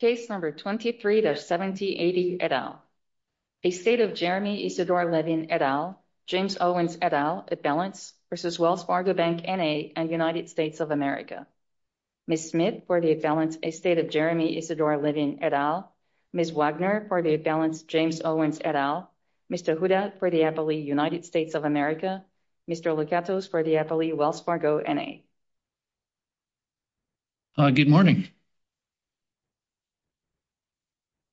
Case number 23-7080, et al. A state of Jeremy Isadore Levin, et al. James Owens, et al. Appellants v. Wells Fargo Bank, N.A. and United States of America. Ms. Smith for the appellants, a state of Jeremy Isadore Levin, et al. Ms. Wagner for the appellants, James Owens, et al. Mr. Huda for the appellee, United States of America. Mr. Lozettos for the appellee, Wells Fargo, N.A. Good morning.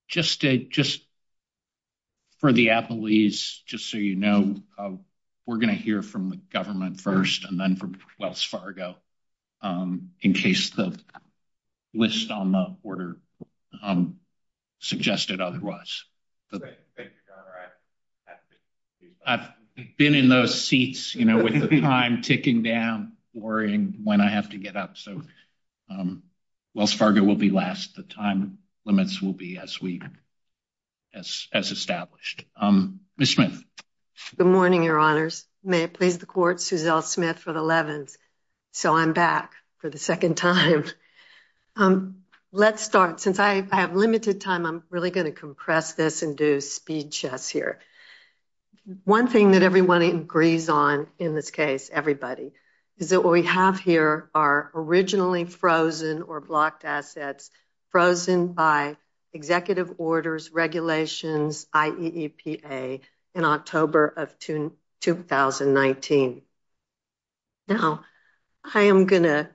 Just for the appellees, just so you know, we're going to hear from the government first, and then from Wells Fargo in case the list on the order suggested otherwise. Thanks, John. I've been in those seats with the time ticking down, worrying when I have to get up. Wells Fargo will be last. The time limits will be as established. Ms. Smith. Good morning, your honors. May it please the court, Suzelle Smith with 11th. So I'm back for the second time. Let's start. Since I have limited time, I'm really going to compress this and do speed chess here. One thing that everyone agrees on, in this case, everybody, is that what we have here are originally frozen or blocked assets frozen by executive orders, regulations, IEPA in October of 2019. Now, I am going to,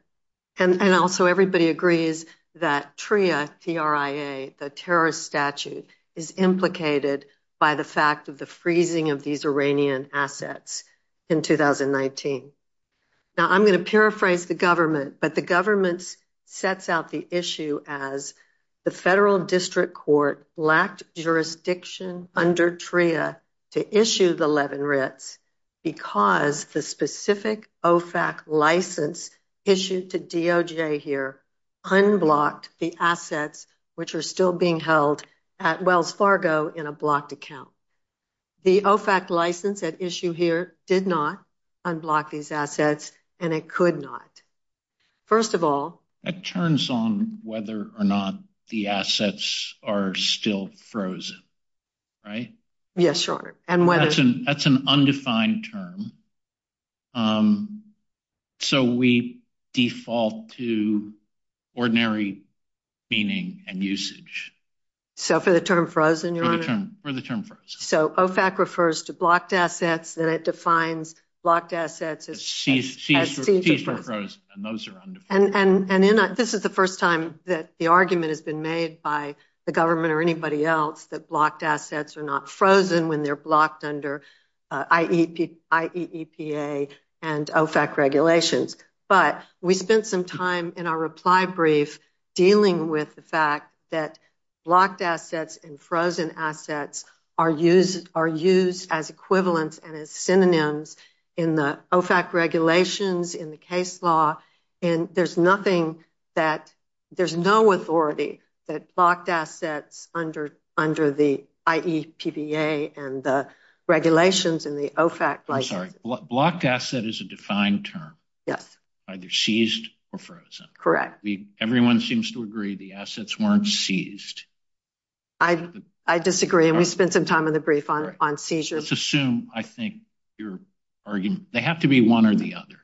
and also everybody agrees that TRIA, the terrorist statute, is implicated by the fact of the freezing of these Iranian assets in 2019. Now, I'm going to paraphrase the government, but the government sets out the issue as the federal district court lacked jurisdiction under TRIA to issue the 11 writs because the specific OFAC license issued to DOJ here unblocked the assets which are still being held at Wells Fargo in a blocked account. The OFAC license at issue here did not unblock these assets, and it could not. First of all- It turns on whether or not the assets are still frozen, right? Yes, Your Honor. And whether- That's an undefined term. So we default to ordinary cleaning and usage. So for the term frozen, Your Honor? For the term frozen. So OFAC refers to blocked assets, then it defines blocked assets as- These were frozen, and those are undefined. And this is the first time that the argument has been made by the government or anybody else that blocked assets are not frozen when they're blocked under IEEPA and OFAC regulations. But we spent some time in our reply brief dealing with the fact that blocked assets and frozen assets are used as equivalents and as synonyms in the OFAC regulations, in the case law, and there's nothing that- there's no authority that blocked assets under the IEEPA and the regulations in the OFAC license. I'm sorry. Blocked asset is a defined term. Yes. Either seized or frozen. Correct. Everyone seems to agree the assets weren't seized. I disagree. We spent some time in the brief on seizures. Let's assume, I think, your argument- they have to be one or the other.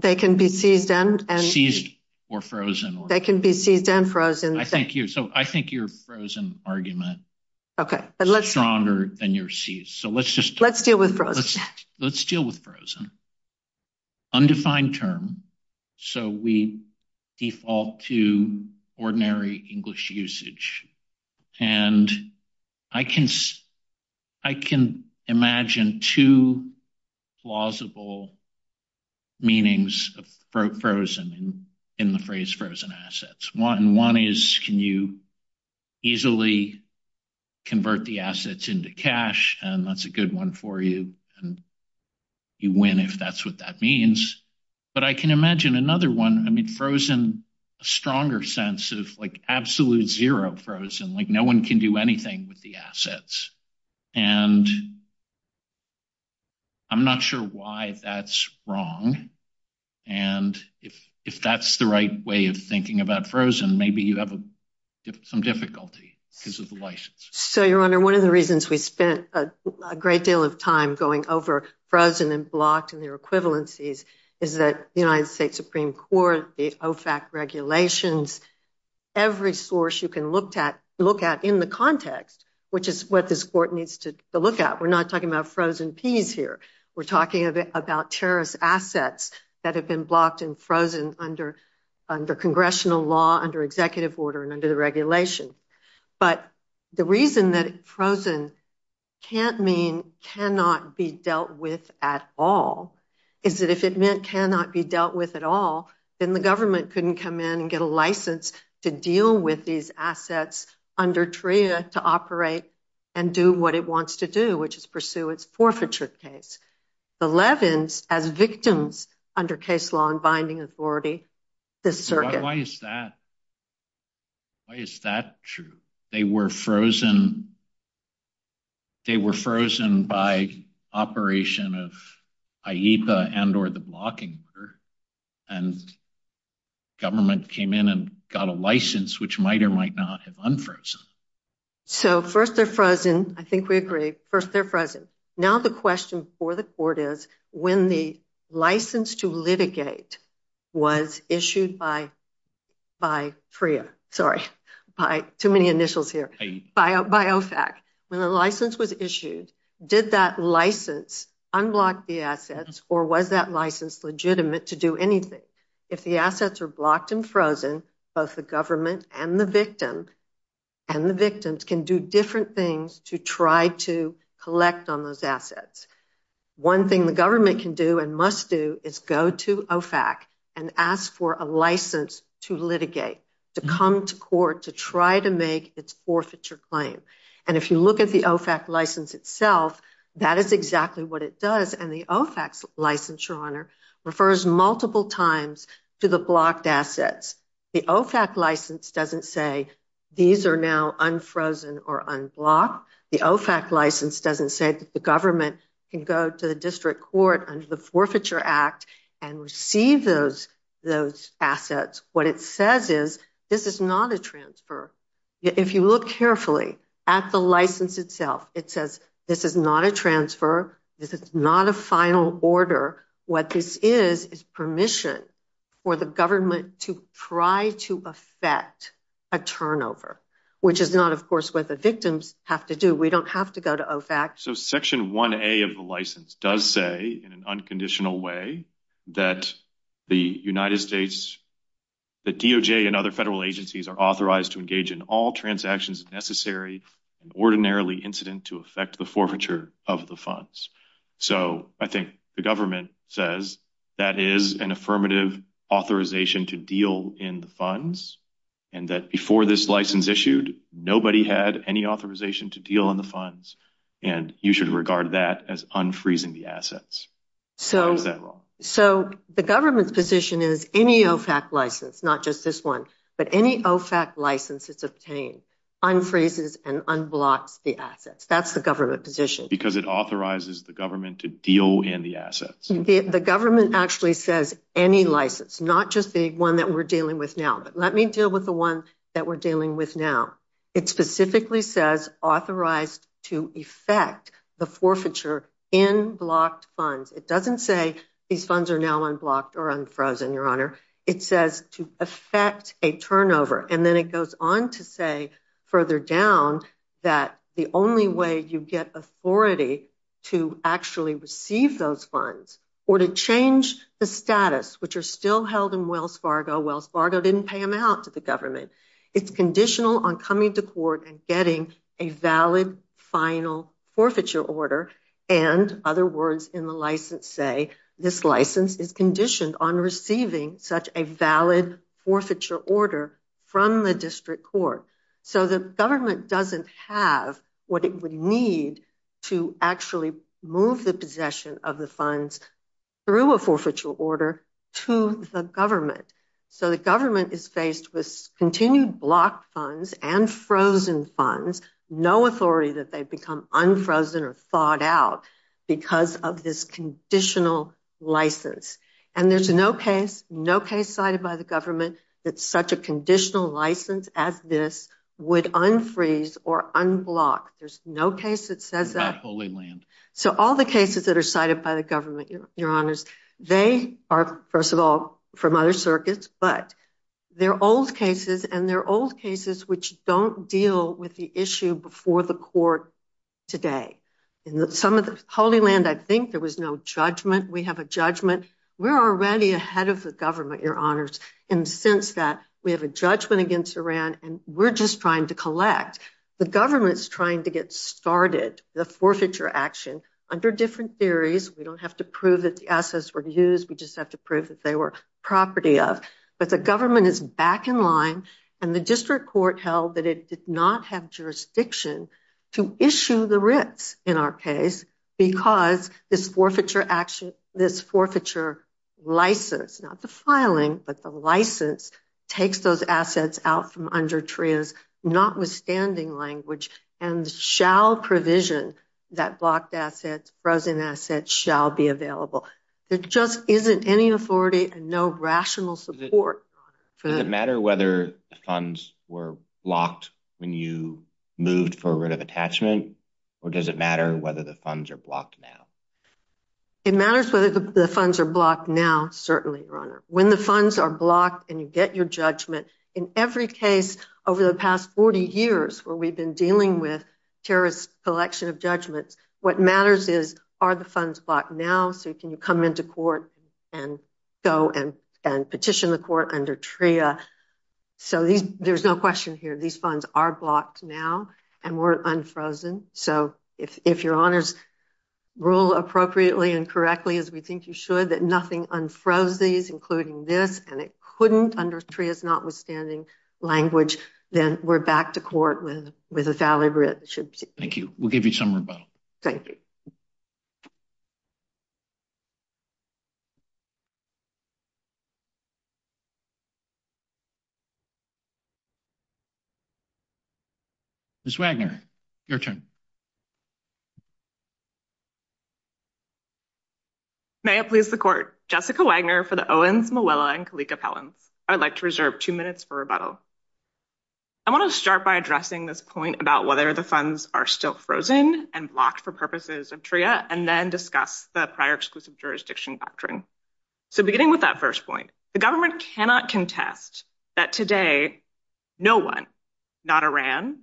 They can be seized and- Seized or frozen. They can be seized and frozen. I think you're- so I think your frozen argument is stronger than your seized. So let's just- Let's deal with frozen. Let's deal with frozen. Undefined term. So we default to ordinary English usage. And I can imagine two plausible meanings of frozen in the phrase frozen assets. One is can you easily convert the assets into cash, and that's a good one for you. And you win if that's what that means. But I can imagine another one. I mean, frozen, a stronger sense of like absolute zero frozen. Like no one can do anything with the assets. And I'm not sure why that's wrong. And if that's the right way of thinking about frozen, maybe you have some difficulty because of the license. So, Your Honor, one of the reasons we spent a great deal of time going over frozen and blocked and their equivalencies is that the United States Supreme Court, the OFAC regulations, every source you can look at in the context, which is what this court needs to look at. We're not talking about frozen peas here. We're talking about terrorist assets that have been blocked and frozen under congressional law, under executive order, and under the regulation. But the reason that frozen can't mean cannot be dealt with at all, is that if it meant cannot be dealt with at all, then the government couldn't come in and get a license to deal with these assets under TRIA to operate and do what it wants to do, which is pursue its forfeiture case. The Levins, as victims under case law and binding authority, this circuit. Why is that? Why is that true? They were frozen by operation of IEPA and or the blocking order, and government came in and got a license, which might or might not have unfrozen. So, first they're frozen. I think we agree. First, they're frozen. Now, the question for the court is when the license to litigate was issued by TRIA, sorry, by too many initials here, by OFAC. When the license was issued, did that license unblock the assets, or was that license legitimate to do anything? If the assets are blocked and frozen, both the government and the victims, and the victims can do different things to try to collect on those assets. One thing the government can do and must do is go to OFAC and ask for a license to litigate, to come to court, to try to make its forfeiture claim. And if you look at the OFAC license itself, that is exactly what it does. And the OFAC license, Your Honor, refers multiple times to the blocked assets. The OFAC license doesn't say these are now unfrozen or unblocked. The OFAC license doesn't say that the government can go to the district court under the Forfeiture Act and receive those assets. What it says is this is not a transfer. If you look carefully at the license itself, it says this is not a transfer. This is not a final order. What this is is permission for the government to try to affect a turnover, which is not, of course, what the victims have to do. We don't have to go to OFAC. So Section 1A of the license does say in an unconditional way that the United States, the DOJ and other federal agencies are authorized to engage in all transactions necessary and ordinarily incident to affect the forfeiture of the funds. So I think the government says that is an affirmative authorization to deal in the funds and that before this license issued, nobody had any authorization to deal in the funds and you should regard that as unfreezing the assets. So the government's position is any OFAC license, not just this one, but any OFAC license that's obtained unfreezes and unblocks the assets. That's the government position. Because it authorizes the government to deal in the assets. The government actually says any license, not just the one that we're dealing with now. Let me deal with the ones that we're dealing with now. It specifically says authorized to affect the forfeiture in blocked funds. It doesn't say these funds are now unblocked or unfrozen, Your Honor. It says to affect a turnover. And then it goes on to say further down that the only way you get authority to actually receive those funds or to change the status, which are still held in Wells Fargo. Wells Fargo didn't pay them out to the government. It's conditional on coming to court and getting a valid final forfeiture order. And other words in the license say this license is conditioned on receiving such a valid forfeiture order from the district court. So the government doesn't have what it would need to actually move the possession of the funds through a forfeiture order to the government. So the government is faced with continued blocked funds and frozen funds. No authority that they become unfrozen or thawed out because of this conditional license. And there's no case cited by the government that such a conditional license as this would unfreeze or unblock. There's no case that says that. Not Holy Land. So all the cases that are cited by the government, Your Honors, they are first of all from other circuits, but they're old cases and they're old cases which don't deal with the issue before the court today. Some of the Holy Land, I think there was no judgment. We have a judgment. We're already ahead of the government, Your Honors. And since that, we have a judgment against Iran and we're just trying to collect. The government's trying to get started the forfeiture action under different theories. We don't have to prove that the assets were used. We just have to prove that they were property of. But the government is back in line and the district court held that it did not have jurisdiction to issue the writ in our case because this forfeiture action, this forfeiture license, not the filing, but the license, takes those assets out from under TRIA's notwithstanding language and shall provision that blocked assets, frozen assets shall be available. There just isn't any authority and no rational support. Does it matter whether the funds were blocked when you moved for a writ of attachment or does it matter whether the funds are blocked now? It matters whether the funds are blocked now, certainly, Your Honor. When the funds are blocked and you get your judgment, in every case over the past 40 years where we've been dealing with terrorist selection of judgments, what matters is are the funds blocked now so you can come into court and go and petition the court under TRIA. So there's no question here. These funds are blocked now and weren't unfrozen. So if Your Honor's rule appropriately and correctly, as we think you should, that nothing unfroze these, including this, and it couldn't under TRIA's notwithstanding language, then we're back to court with a valid writ. Thank you. We'll give you some more time. Thank you. Ms. Wagner, your turn. May it please the court. Jessica Wagner for the Owens, Muella, and Kalika Pelham. I'd like to reserve two minutes for rebuttal. I want to start by addressing this point about whether the funds are still frozen and blocked for purposes of TRIA and then discuss the prior exclusive jurisdiction doctrine. So beginning with that first point, the government cannot contest that today no one, not Iran,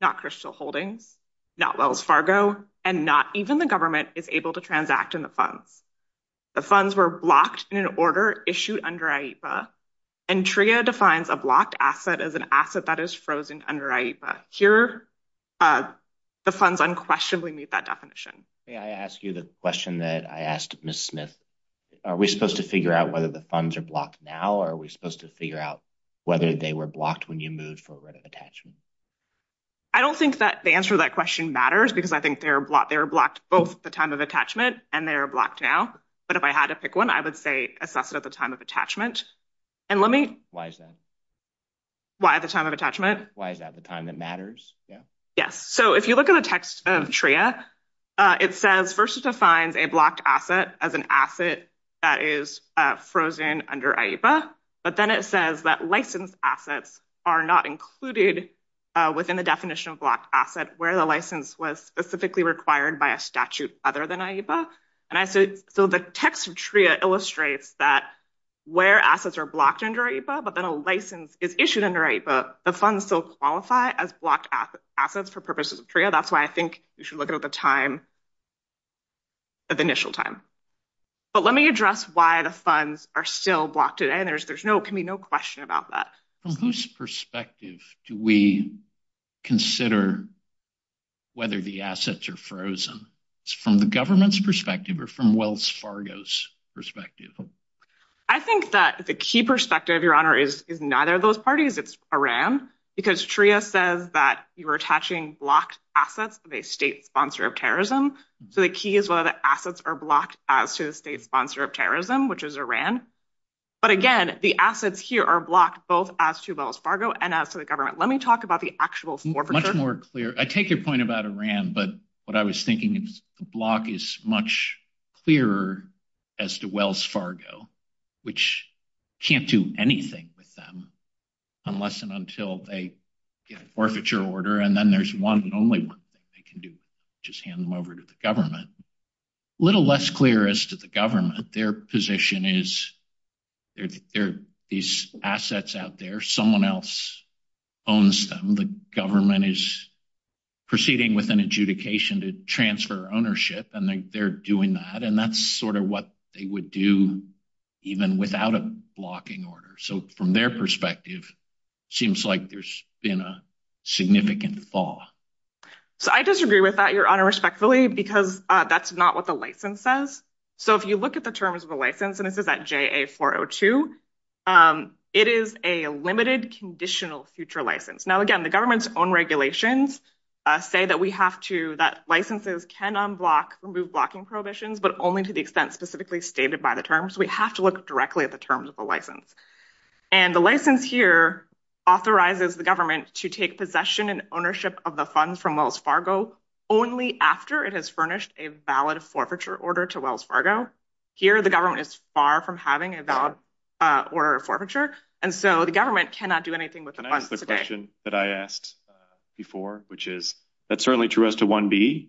not Crystal Holding, not Wells Fargo, and not even the government is able to transact in the funds. The funds were blocked in an order issued under IEPA and TRIA defines a blocked asset as an asset that is frozen under IEPA. Here, the funds unquestionably meet that definition. May I ask you the question that I asked Ms. Smith? Are we supposed to figure out whether the funds are blocked now or are we supposed to figure out whether they were blocked when you moved for a writ of attachment? I don't think that the answer to that question matters because I think they're blocked both the time of attachment and they're blocked now, but if I had to pick one, I would say assess it at the time of attachment. And let me... Why is that? Why at the time of attachment? Why is that the time it matters? Yes. So if you look at the text of TRIA, it says first it defines a blocked asset as an asset that is frozen under IEPA, but then it says that license assets are not included within the definition of blocked asset where the license was specifically required by a statute other than And I said, so the text of TRIA illustrates that where assets are blocked under IEPA, but then a license is issued under IEPA. The funds don't qualify as blocked assets for purposes of TRIA. That's why I think you should look at the time of initial time. But let me address why the funds are still blocked today. And there can be no question about that. From whose perspective do we consider whether the assets are frozen? It's from the government's perspective or from Wells Fargo's perspective? I think that the key perspective, Your Honor, is neither of those parties. It's Iran. Because TRIA says that you're attaching blocked assets to a state sponsor of terrorism. So the key is whether the assets are blocked as to the state sponsor of terrorism, which is Iran. But again, the assets here are blocked both as to Wells Fargo and as to the government. Let me talk about the actual forfeiture. Much more clear. I take your point about Iran. What I was thinking is the block is much clearer as to Wells Fargo, which can't do anything with them unless and until they get a forfeiture order. And then there's one only thing they can do, which is hand them over to the government. A little less clear as to the government. Their position is there are these assets out there. Someone else owns them. The government is proceeding with an adjudication to transfer ownership, and they're doing that. And that's sort of what they would do even without a blocking order. So from their perspective, it seems like there's been a significant fall. So I disagree with that, Your Honor, respectfully, because that's not what the license says. So if you look at the terms of the license, and this is at JA-402, it is a limited conditional future license. Now, again, the government's own regulations say that we have to, that licenses can unblock, remove blocking prohibitions, but only to the extent specifically stated by the terms. We have to look directly at the terms of the license. And the license here authorizes the government to take possession and ownership of the funds from Wells Fargo only after it has furnished a valid forfeiture order to Wells Fargo. Here, the government is far from having a valid order of forfeiture. And so the government cannot do anything with the funds today. So I'm going to ask a question that I asked before, which is, that's certainly true as to 1B,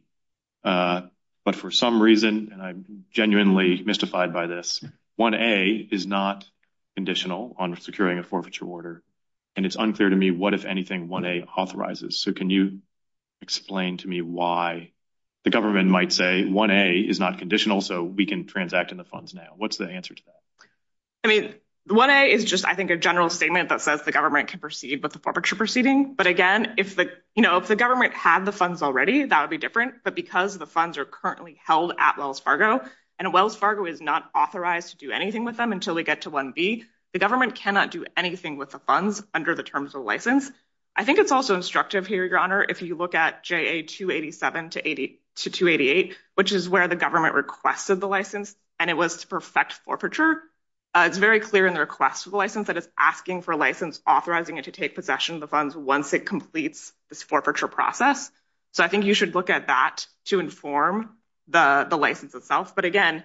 but for some reason, and I'm genuinely mystified by this, 1A is not conditional on securing a forfeiture order. And it's unclear to me what, if anything, 1A authorizes. So can you explain to me why the government might say 1A is not conditional so we can transact in the funds now? What's the answer to that? I mean, 1A is just, I think, a general statement that says the government can proceed with the forfeiture proceeding. But again, if the government had the funds already, that would be different. But because the funds are currently held at Wells Fargo and Wells Fargo is not authorized to do anything with them until we get to 1B, the government cannot do anything with the funds under the terms of the license. I think it's also instructive here, Your Honor, if you look at JA 287 to 288, which is where the government requested the license and it was to perfect forfeiture, it's very clear in the request of the license that it's asking for a license, authorizing it to take possession of the funds once it completes this forfeiture process. So I think you should look at that to inform the license itself. But again,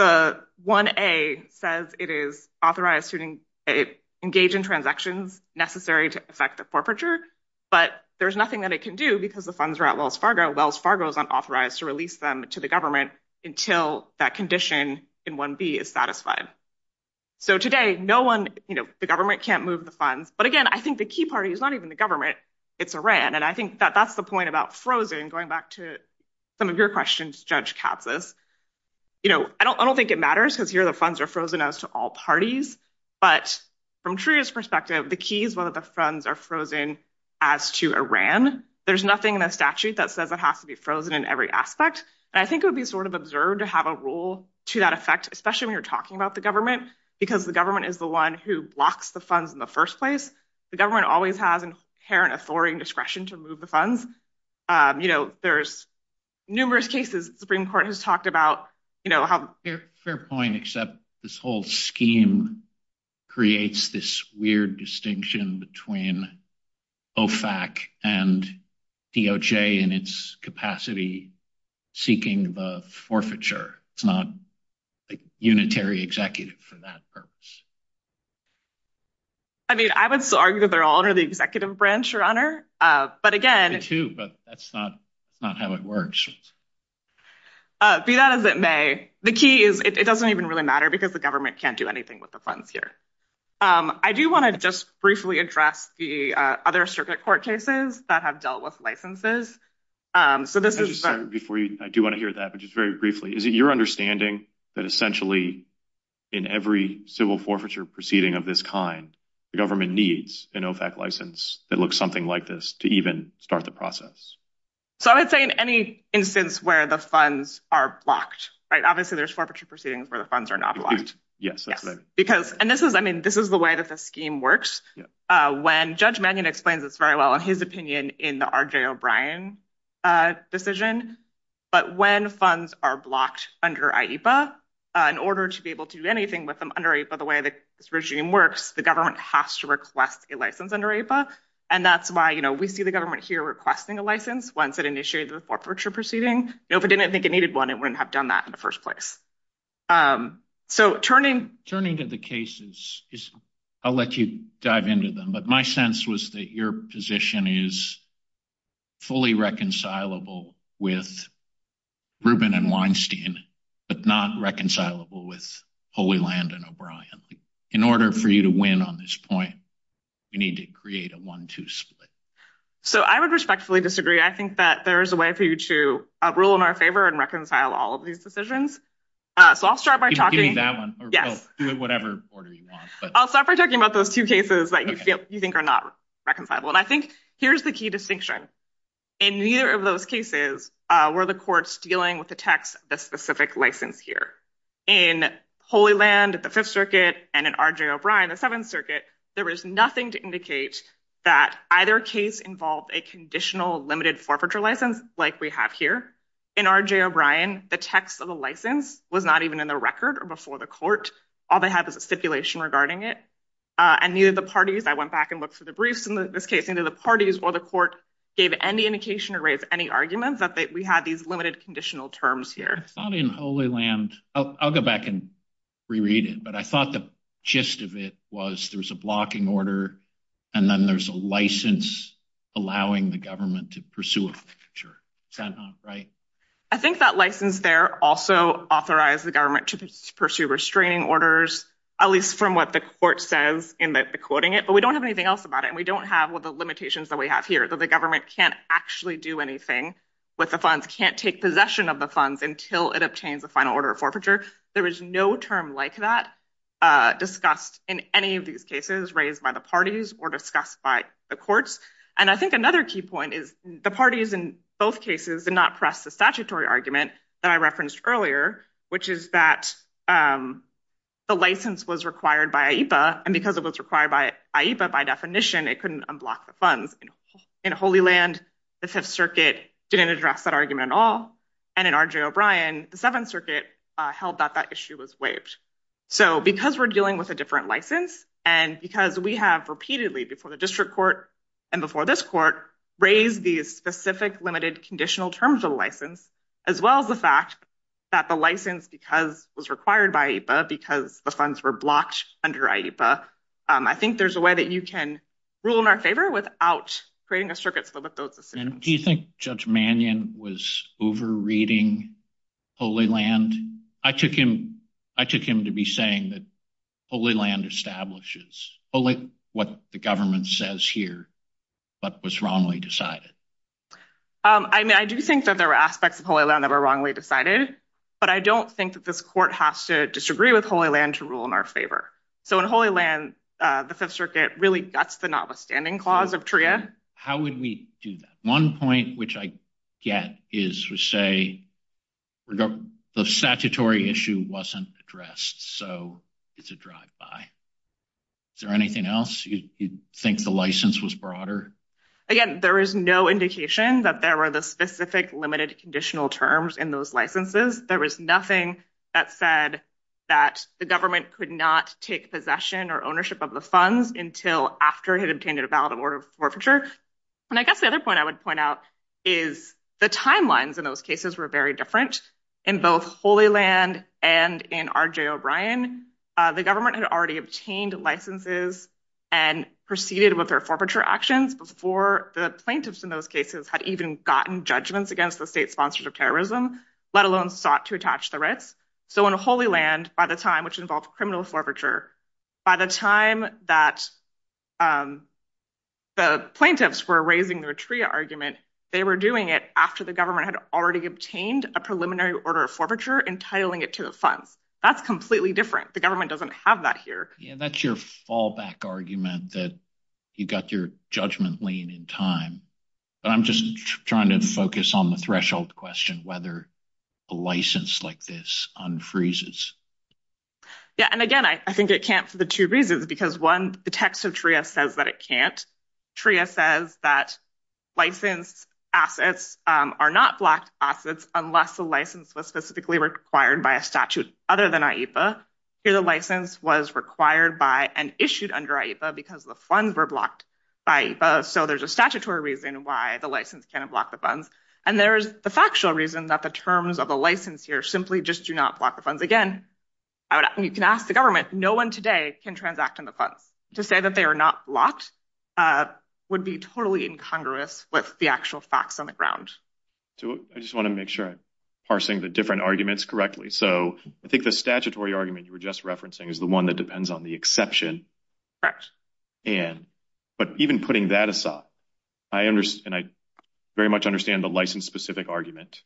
1A says it is authorized to engage in transactions necessary to affect the forfeiture, but there's nothing that it can do because the funds are at Wells Fargo and Wells Fargo is unauthorized to release them to the government until that condition in 1B is satisfied. So today, the government can't move the funds. But again, I think the key party is not even the government, it's Iran. And I think that that's the point about frozen, going back to some of your questions, Judge Kapsis. I don't think it matters because here the funds are frozen as to all parties, but from Truia's perspective, the key is whether the funds are frozen as to Iran. There's nothing in the statute that says it has to be frozen in every aspect. And I think it would be sort of observed to have a rule to that effect, especially when you're talking about the government, because the government is the one who blocks the funds in the first place. The government always has inherent authority and discretion to move the funds. You know, there's numerous cases the Supreme Court has talked about, you know, how... It's a fair point, except this whole scheme creates this weird distinction between OFAC and DOJ in its capacity seeking the forfeiture. It's not a unitary executive for that purpose. I mean, I would still argue that they're all under the executive branch, Your Honor. But again... They're two, but that's not how it works. Be that as it may, the key is it doesn't even really matter because the government can't do anything with the funds here. I do wanna just briefly address the other circuit court cases that have dealt with licenses. So this is... I just started before you... I do wanna hear that, but just very briefly. Is it your understanding that essentially in every civil forfeiture proceeding of this kind, the government needs an OFAC license that looks something like this to even start the process? So I would say in any instance where the funds are blocked, right? Obviously there's forfeiture proceedings where the funds are not blocked. Yes, that's right. Because... And this is... I mean, this is the way that the scheme works. When Judge Mannion explains this very well his opinion in the RJ O'Brien decision, but when funds are blocked under IEPA in order to be able to do anything with them under IEPA the way that this regime works, the government has to request a license under IEPA. And that's why we see the government here requesting a license once it initiated the forfeiture proceeding. If it didn't think it needed one, it wouldn't have done that in the first place. So turning... Turning to the cases is... I'll let you dive into them, but my sense was that your position is fully reconcilable with Rubin and Weinstein, but not reconcilable with Holy Land and O'Brien. In order for you to win on this point, you need to create a one-two split. So I would respectfully disagree. I think that there is a way for you to rule in our favor and reconcile all of these decisions. So I'll start by talking... You mean that one? Yeah. Do whatever order you want, but... I'll start by talking about those two cases that you think are not reconcilable. And I think here's the key distinction. In neither of those cases were the courts dealing with the text of the specific license here. In Holy Land, the Fifth Circuit, and in R.J. O'Brien, the Seventh Circuit, there was nothing to indicate that either case involved a conditional limited forfeiture license like we have here. In R.J. O'Brien, the text of the license was not even in the record or before the court. All they had was a stipulation regarding it and neither of the parties... I went back and looked for the briefs in this case, neither of the parties, while the court gave any indication or raised any arguments that we had these limited conditional terms here. It's not in Holy Land. I'll go back and reread it. But I thought the gist of it was there was a blocking order and then there's a license allowing the government to pursue a forfeiture. Is that not right? I think that license there also authorized the government to pursue restraining orders, at least from what the court says in the quoting it, but we don't have anything else about it and we don't have the limitations that we have here. So the government can't actually do anything with the funds, can't take possession of the funds until it obtains the final order of forfeiture. There was no term like that discussed in any of these cases raised by the parties or discussed by the courts. And I think another key point is the parties in both cases did not press the statutory argument that I referenced earlier, which is that the license was required by AEPA and because it was required by AEPA, by definition, it couldn't unblock the funds. In Holy Land, the Fifth Circuit didn't address that argument at all. And in R.J. O'Brien, the Seventh Circuit held that that issue was waived. So because we're dealing with a different license and because we have repeatedly before the district court and before this court raised these specific limited conditional terms of the license, as well as the fact that the license because it was required by AEPA because the funds were blocked under AEPA. I think there's a way that you can rule in our favor without creating a circuit. Do you think Judge Mannion was over-reading Holy Land? I took him to be saying that Holy Land establishes only what the government says here, but was wrongly decided. I do think that there were aspects of Holy Land that were wrongly decided. But I don't think that this court has to disagree with Holy Land to rule in our favor. So in Holy Land, the Fifth Circuit really, that's the notwithstanding clause of TRIA. How would we do that? One point which I get is to say the statutory issue wasn't addressed. So it's a drive-by. Is there anything else? You think the license was broader? Again, there is no indication that there were the specific limited conditional terms in those licenses. There was nothing that said that the government could not take possession or ownership of the funds until after it had obtained a valid order of forfeiture. And I guess the other point I would point out is the timelines in those cases were very different. In both Holy Land and in R.J. O'Brien, the government had already obtained licenses and proceeded with their forfeiture actions before the plaintiffs in those cases had even gotten judgments against the state sponsors of terrorism, let alone sought to attach the writ. So in Holy Land, by the time which involves criminal forfeiture, by the time that the plaintiffs were raising the TRIA argument, they were doing it after the government had already obtained a preliminary order of forfeiture, entitling it to a fund. That's completely different. The government doesn't have that here. Yeah, that's your fallback argument that you got your judgment lean in time. I'm just trying to focus on the threshold question, whether a license like this unfreezes. Yeah, and again, I think it can't for the two reasons, because one, the text of TRIA says that it can't. TRIA says that licensed assets are not blocked assets unless the license was specifically required by a statute other than AIPA. Here, the license was required by and issued under AIPA because the funds were blocked by AIPA. So there's a statutory reason why the license can't block the funds. And there's the factual reason that the terms of a license here simply just do not block the funds. Again, you can ask the government, no one today can transact in the funds. To say that they are not blocked would be totally incongruous with the actual facts on the ground. I just want to make sure, parsing the different arguments correctly. So I think the statutory argument you were just referencing is the one that depends on the exception. Correct. And, but even putting that aside, I understand, I very much understand the license-specific argument.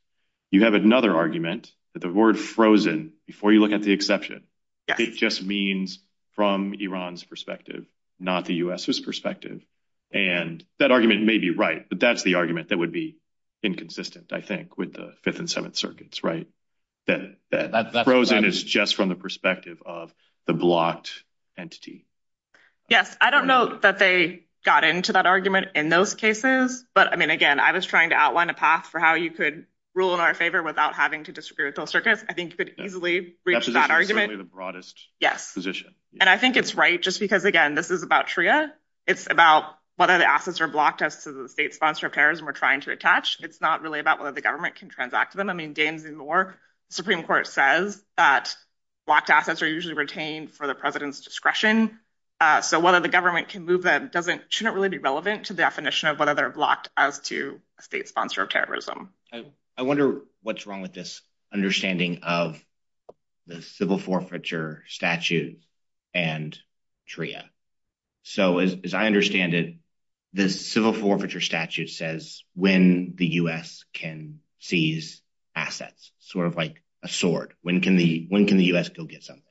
You have another argument that the word frozen, before you look at the exception, it just means from Iran's perspective, not the U.S.'s perspective. And that argument may be right, but that's the argument that would be inconsistent, I think, with the Fifth and Seventh Circuits, right? That frozen is just from the perspective of the blocked entity. Yes, I don't know that they got into that argument in those cases. But, I mean, again, I was trying to outline a path for how you could rule in our favor without having to disagree with the Fifth Circuits. I think you could easily reach that argument. That's the broadest position. And I think it's right, just because, again, this is about TRIA. It's about whether the assets are blocked as to the state-sponsored pairs we're trying to attach. It's not really about whether the government can transact them. I mean, gains and more. The Supreme Court says that blocked assets are usually retained for the president's discretion. So whether the government can move them shouldn't really be relevant to the definition of whether they're blocked as to state-sponsored terrorism. I wonder what's wrong with this understanding of the civil forfeiture statute and TRIA. So as I understand it, the civil forfeiture statute says when the U.S. can seize assets, sort of like a sword. When can the U.S. still get something?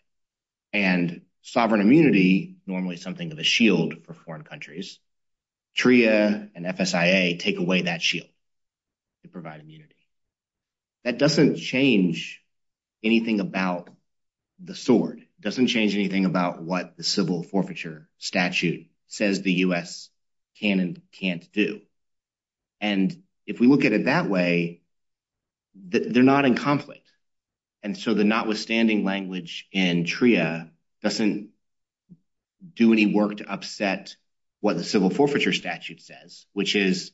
And sovereign immunity, normally something of a shield for foreign countries. TRIA and FSIA take away that shield to provide immunity. That doesn't change anything about the sword. It doesn't change anything about what the civil forfeiture statute says the U.S. can and can't do. And if we look at it that way, they're not in conflict. And so the notwithstanding language in TRIA doesn't do any work to upset what the civil forfeiture statute says, which is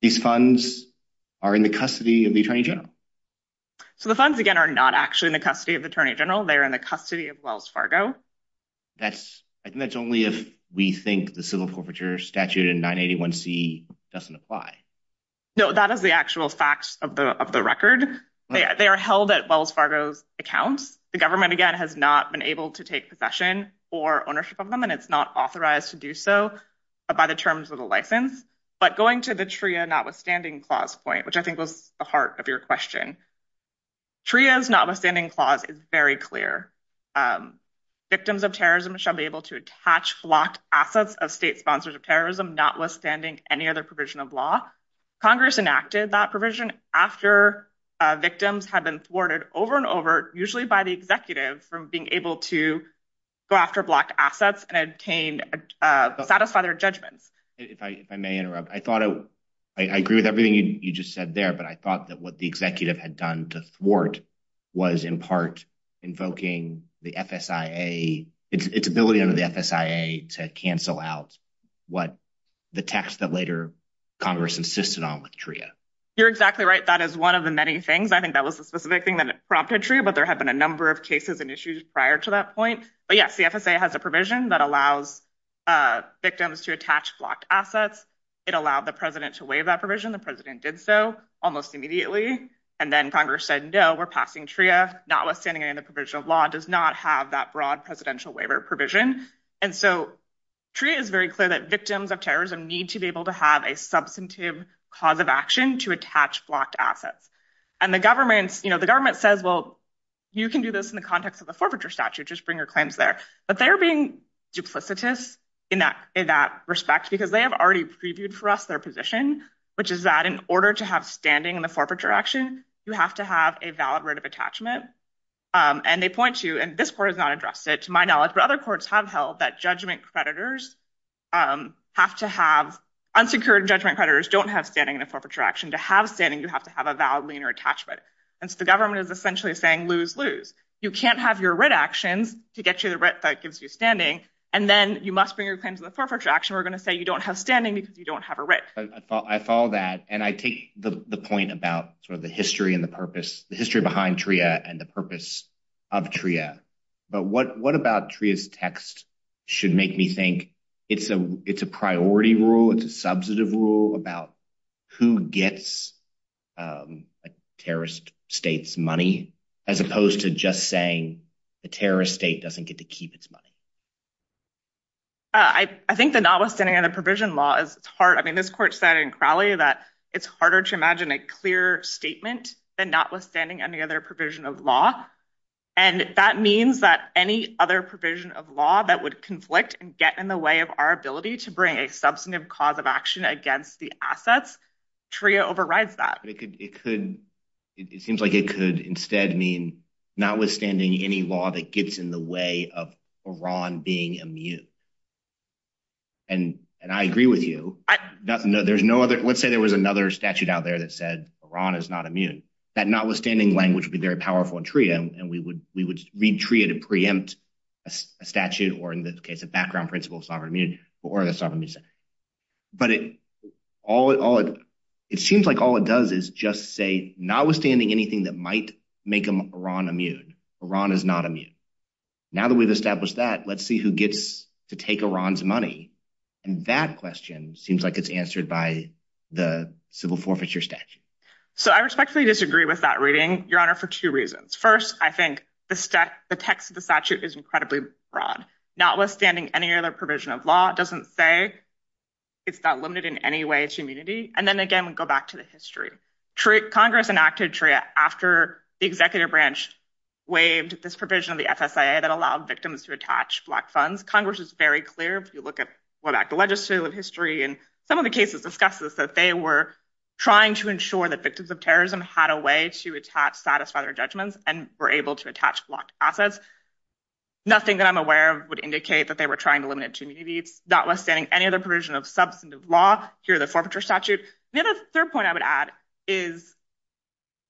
these funds are in the custody of the attorney general. So the funds, again, are not actually in the custody of the attorney general. They're in the custody of Wells Fargo. That's only if we think the civil forfeiture statute in 981C doesn't apply. No, that is the actual facts of the record. They are held at Wells Fargo's account. The government, again, has not been able to take possession or ownership of them, and it's not authorized to do so by the terms of the license. But going to the TRIA notwithstanding clause point, which I think was the heart of your question, TRIA's notwithstanding clause is very clear. Victims of terrorism shall be able to attach flocked assets of state sponsors of terrorism notwithstanding any other provision of law. Congress enacted that provision after victims had been thwarted over and over, usually by the executive, from being able to go after blocked assets and obtain, satisfy their judgment. If I may interrupt. I thought, I agree with everything you just said there, but I thought that what the executive had done to thwart was, in part, invoking the FSIA, its ability under the FSIA to cancel out what the text that later Congress insisted on with TRIA. You're exactly right. That is one of the many things. I think that was a specific thing that prompted TRIA, but there have been a number of cases and issues prior to that point. But yes, the FSIA has a provision that allows victims to attach flocked assets. It allowed the president to waive that provision. The president did so almost immediately. And then Congress said, no, we're passing TRIA. Notwithstanding any provision of law does not have that broad presidential waiver provision. And so TRIA is very clear that victims of terrorism need to be able to have a substantive cause of action to attach flocked assets. And the government, the government says, well, you can do this in the context of a forfeiture statute, just bring your claims there. But they're being duplicative in that respect because they have already previewed for us their position, which is that in order to have standing in the forfeiture action, you have to have a valid right of attachment. And they point to, and this court has not addressed it to my knowledge, but other courts have held that judgment creditors have to have, unsecured judgment creditors don't have standing in a forfeiture action. To have standing, you have to have a valid linear attachment. The government is essentially saying, lose, lose. You can't have your writ action to get you the writ that gives you standing. And then you must bring your claims to the forfeiture action. We're going to say you don't have standing because you don't have a writ. I follow that. And I take the point about sort of the history and the purpose, the history behind TRIA and the purpose of TRIA. But what about TRIA's text should make me think it's a priority rule, it's a substantive rule about who gets a terrorist state's money, as opposed to just saying the terrorist state doesn't get to keep its money. I think the notwithstanding on a provision law is hard. I mean, this court said in Crowley that it's harder to imagine a clear statement than notwithstanding any other provision of law. And that means that any other provision of law that would conflict and get in the way of our ability to bring a substantive cause of action against the assets, TRIA overrides that. But it could, it could, it seems like it could instead mean notwithstanding any law that gets in the way of Iran being immune. And I agree with you. There's no other, let's say there was another statute out there that said Iran is not immune. That notwithstanding language would be very powerful in TRIA and we would read TRIA to preempt a statute or in this case, a background principle of sovereign immunity or the sovereign immunity. But it all, it seems like all it does is just say notwithstanding anything that might make Iran immune. Iran is not immune. Now that we've established that, let's see who gets to take Iran's money. And that question seems like it's answered by the civil forfeiture statute. So I respectfully disagree with that reading, Your Honor, for two reasons. First, I think the text of the statute is incredibly broad. Notwithstanding any other provision of law doesn't say it's not limited in any way to immunity. And then again, we go back to the history. Congress enacted TRIA after the executive branch waived this provision of the FSIA that allowed victims to attach blocked funds. Congress is very clear if you look at, go back to legislative history and some of the cases discussed this, that they were trying to ensure that victims of terrorism had a way to attach, satisfy their judgments and were able to attach blocked assets. Nothing that I'm aware of would indicate that they were trying to limit it to immunity. Notwithstanding any other provision of substantive law through the forfeiture statute. The other third point I would add is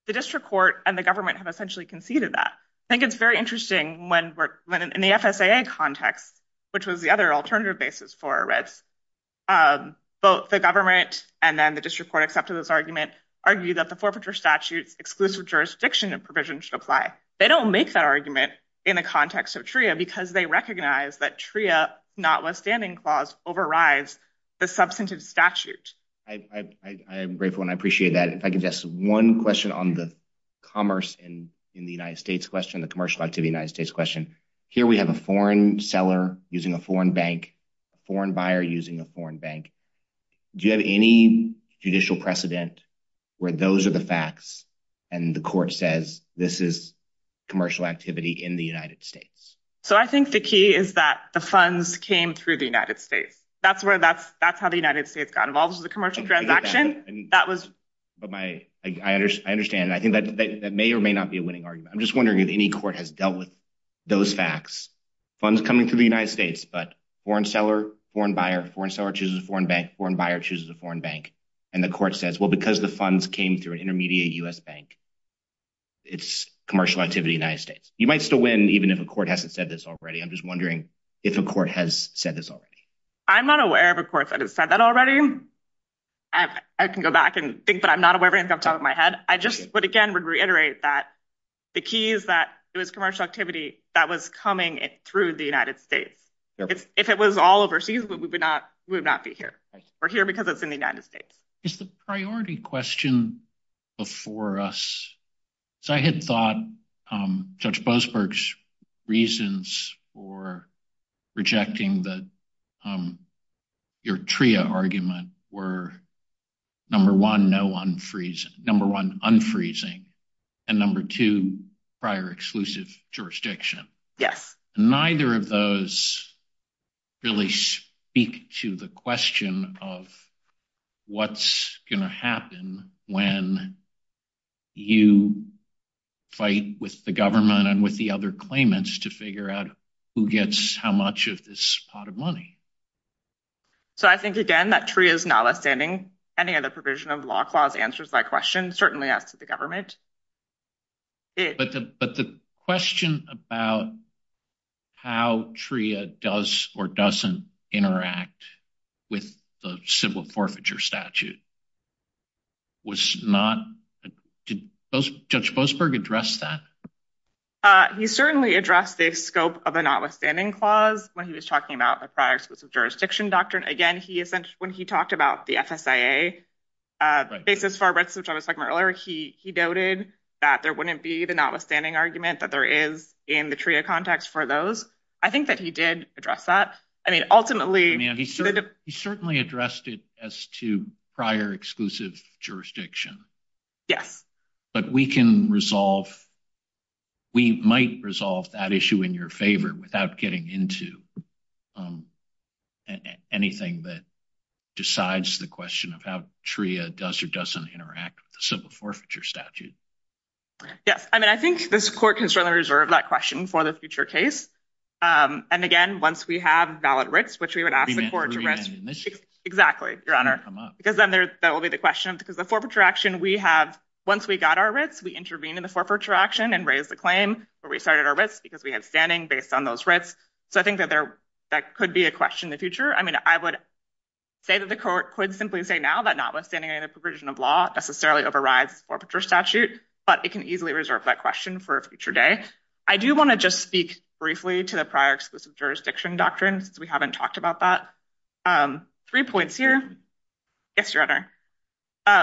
the district court and the government have essentially conceded that. I think it's very interesting when we're in the FSIA context, which was the other alternative basis for arrest. Both the government and then the district court accepted this argument, argued that the forfeiture statute exclusive jurisdiction and provision should apply. They don't make that argument in the context of TRIA because they recognize that TRIA notwithstanding clause overrides the substantive statute. I'm grateful and I appreciate that. If I could just one question on the commerce and in the United States question, the commercial activity United States question. Here we have a foreign seller using a foreign bank, foreign buyer using a foreign bank. Do you have any judicial precedent where those are the facts and the court says this is commercial activity in the United States? So I think the key is that the funds came through the United States. That's where that's that's how the United States got involved with the commercial transaction. That was my I understand. I think that may or may not be a winning argument. I'm just wondering if any court has dealt with those facts. Funds coming to the United States, but foreign seller, foreign buyer, foreign seller chooses a foreign bank, foreign buyer chooses a foreign bank. And the court says, well, because the funds came through an intermediate U.S. bank, it's commercial activity in the United States. You might still win even if a court hasn't said this already. I'm just wondering if a court has said this already. I'm not aware of a court that has said that already. And I can go back and think that I'm not aware of it off the top of my head. I just would again reiterate that the key is that it was commercial activity that was coming through the United States. If it was all overseas, we would not be here. We're here because it's in the United States. It's the priority question before us. So I had thought Judge Boasberg's reasons for rejecting your TRIA argument were number one, number one, unfreezing, and number two, prior exclusive jurisdiction. Neither of those really speak to the question of what's going to happen when you fight with the government and with the other claimants to figure out who gets how much of this pot of money. So I think again, that TRIA is notwithstanding any other provision of the law clause answers that question. Certainly that's the government. But the question about how TRIA does or doesn't interact with the civil forfeiture statute. Was not... Did Judge Boasberg address that? He certainly addressed the scope of a notwithstanding clause when he was talking about the prior jurisdiction doctrine. Again, when he talked about the FSIA basis for Brexit, which I was talking about earlier, he doubted that there wouldn't be the notwithstanding argument that there is in the TRIA context for those. I think that he did address that. I mean, ultimately... He certainly addressed it to prior exclusive jurisdiction. Yes. But we can resolve... We might resolve that issue in your favor without getting into anything that decides the question of how TRIA does or doesn't interact with the civil forfeiture statute. Yes. I mean, I think this court can certainly reserve that question for the future case. And again, once we have valid writs, which we would ask the court to write. Exactly, Your Honor. Because then that will be the question because the forfeiture action we have, once we got our writs, we intervened in the forfeiture action and raised the claim where we cited our writs because we had standing based on those writs. So I think that there could be a question in the future. I mean, I would say that the court could simply say now that notwithstanding the provision of law necessarily overrides forfeiture statute, but it can easily reserve that question for a future day. I do want to just speak briefly to the prior exclusive jurisdiction doctrine because we haven't talked about that. Three points here. Yes, Your Honor.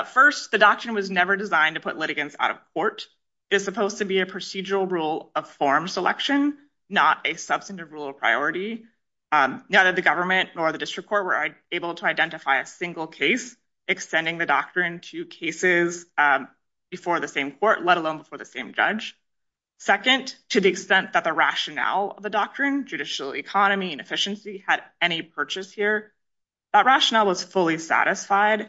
First, the doctrine was never designed to put litigants out of court. It's supposed to be a procedural rule of forum selection, not a substantive rule of priority. Neither the government nor the district court were able to identify a single case extending the doctrine to cases before the same court, let alone for the same judge. Second, to the extent that the rationale of the doctrine, judicial economy and efficiency had any purchase here, that rationale was fully satisfied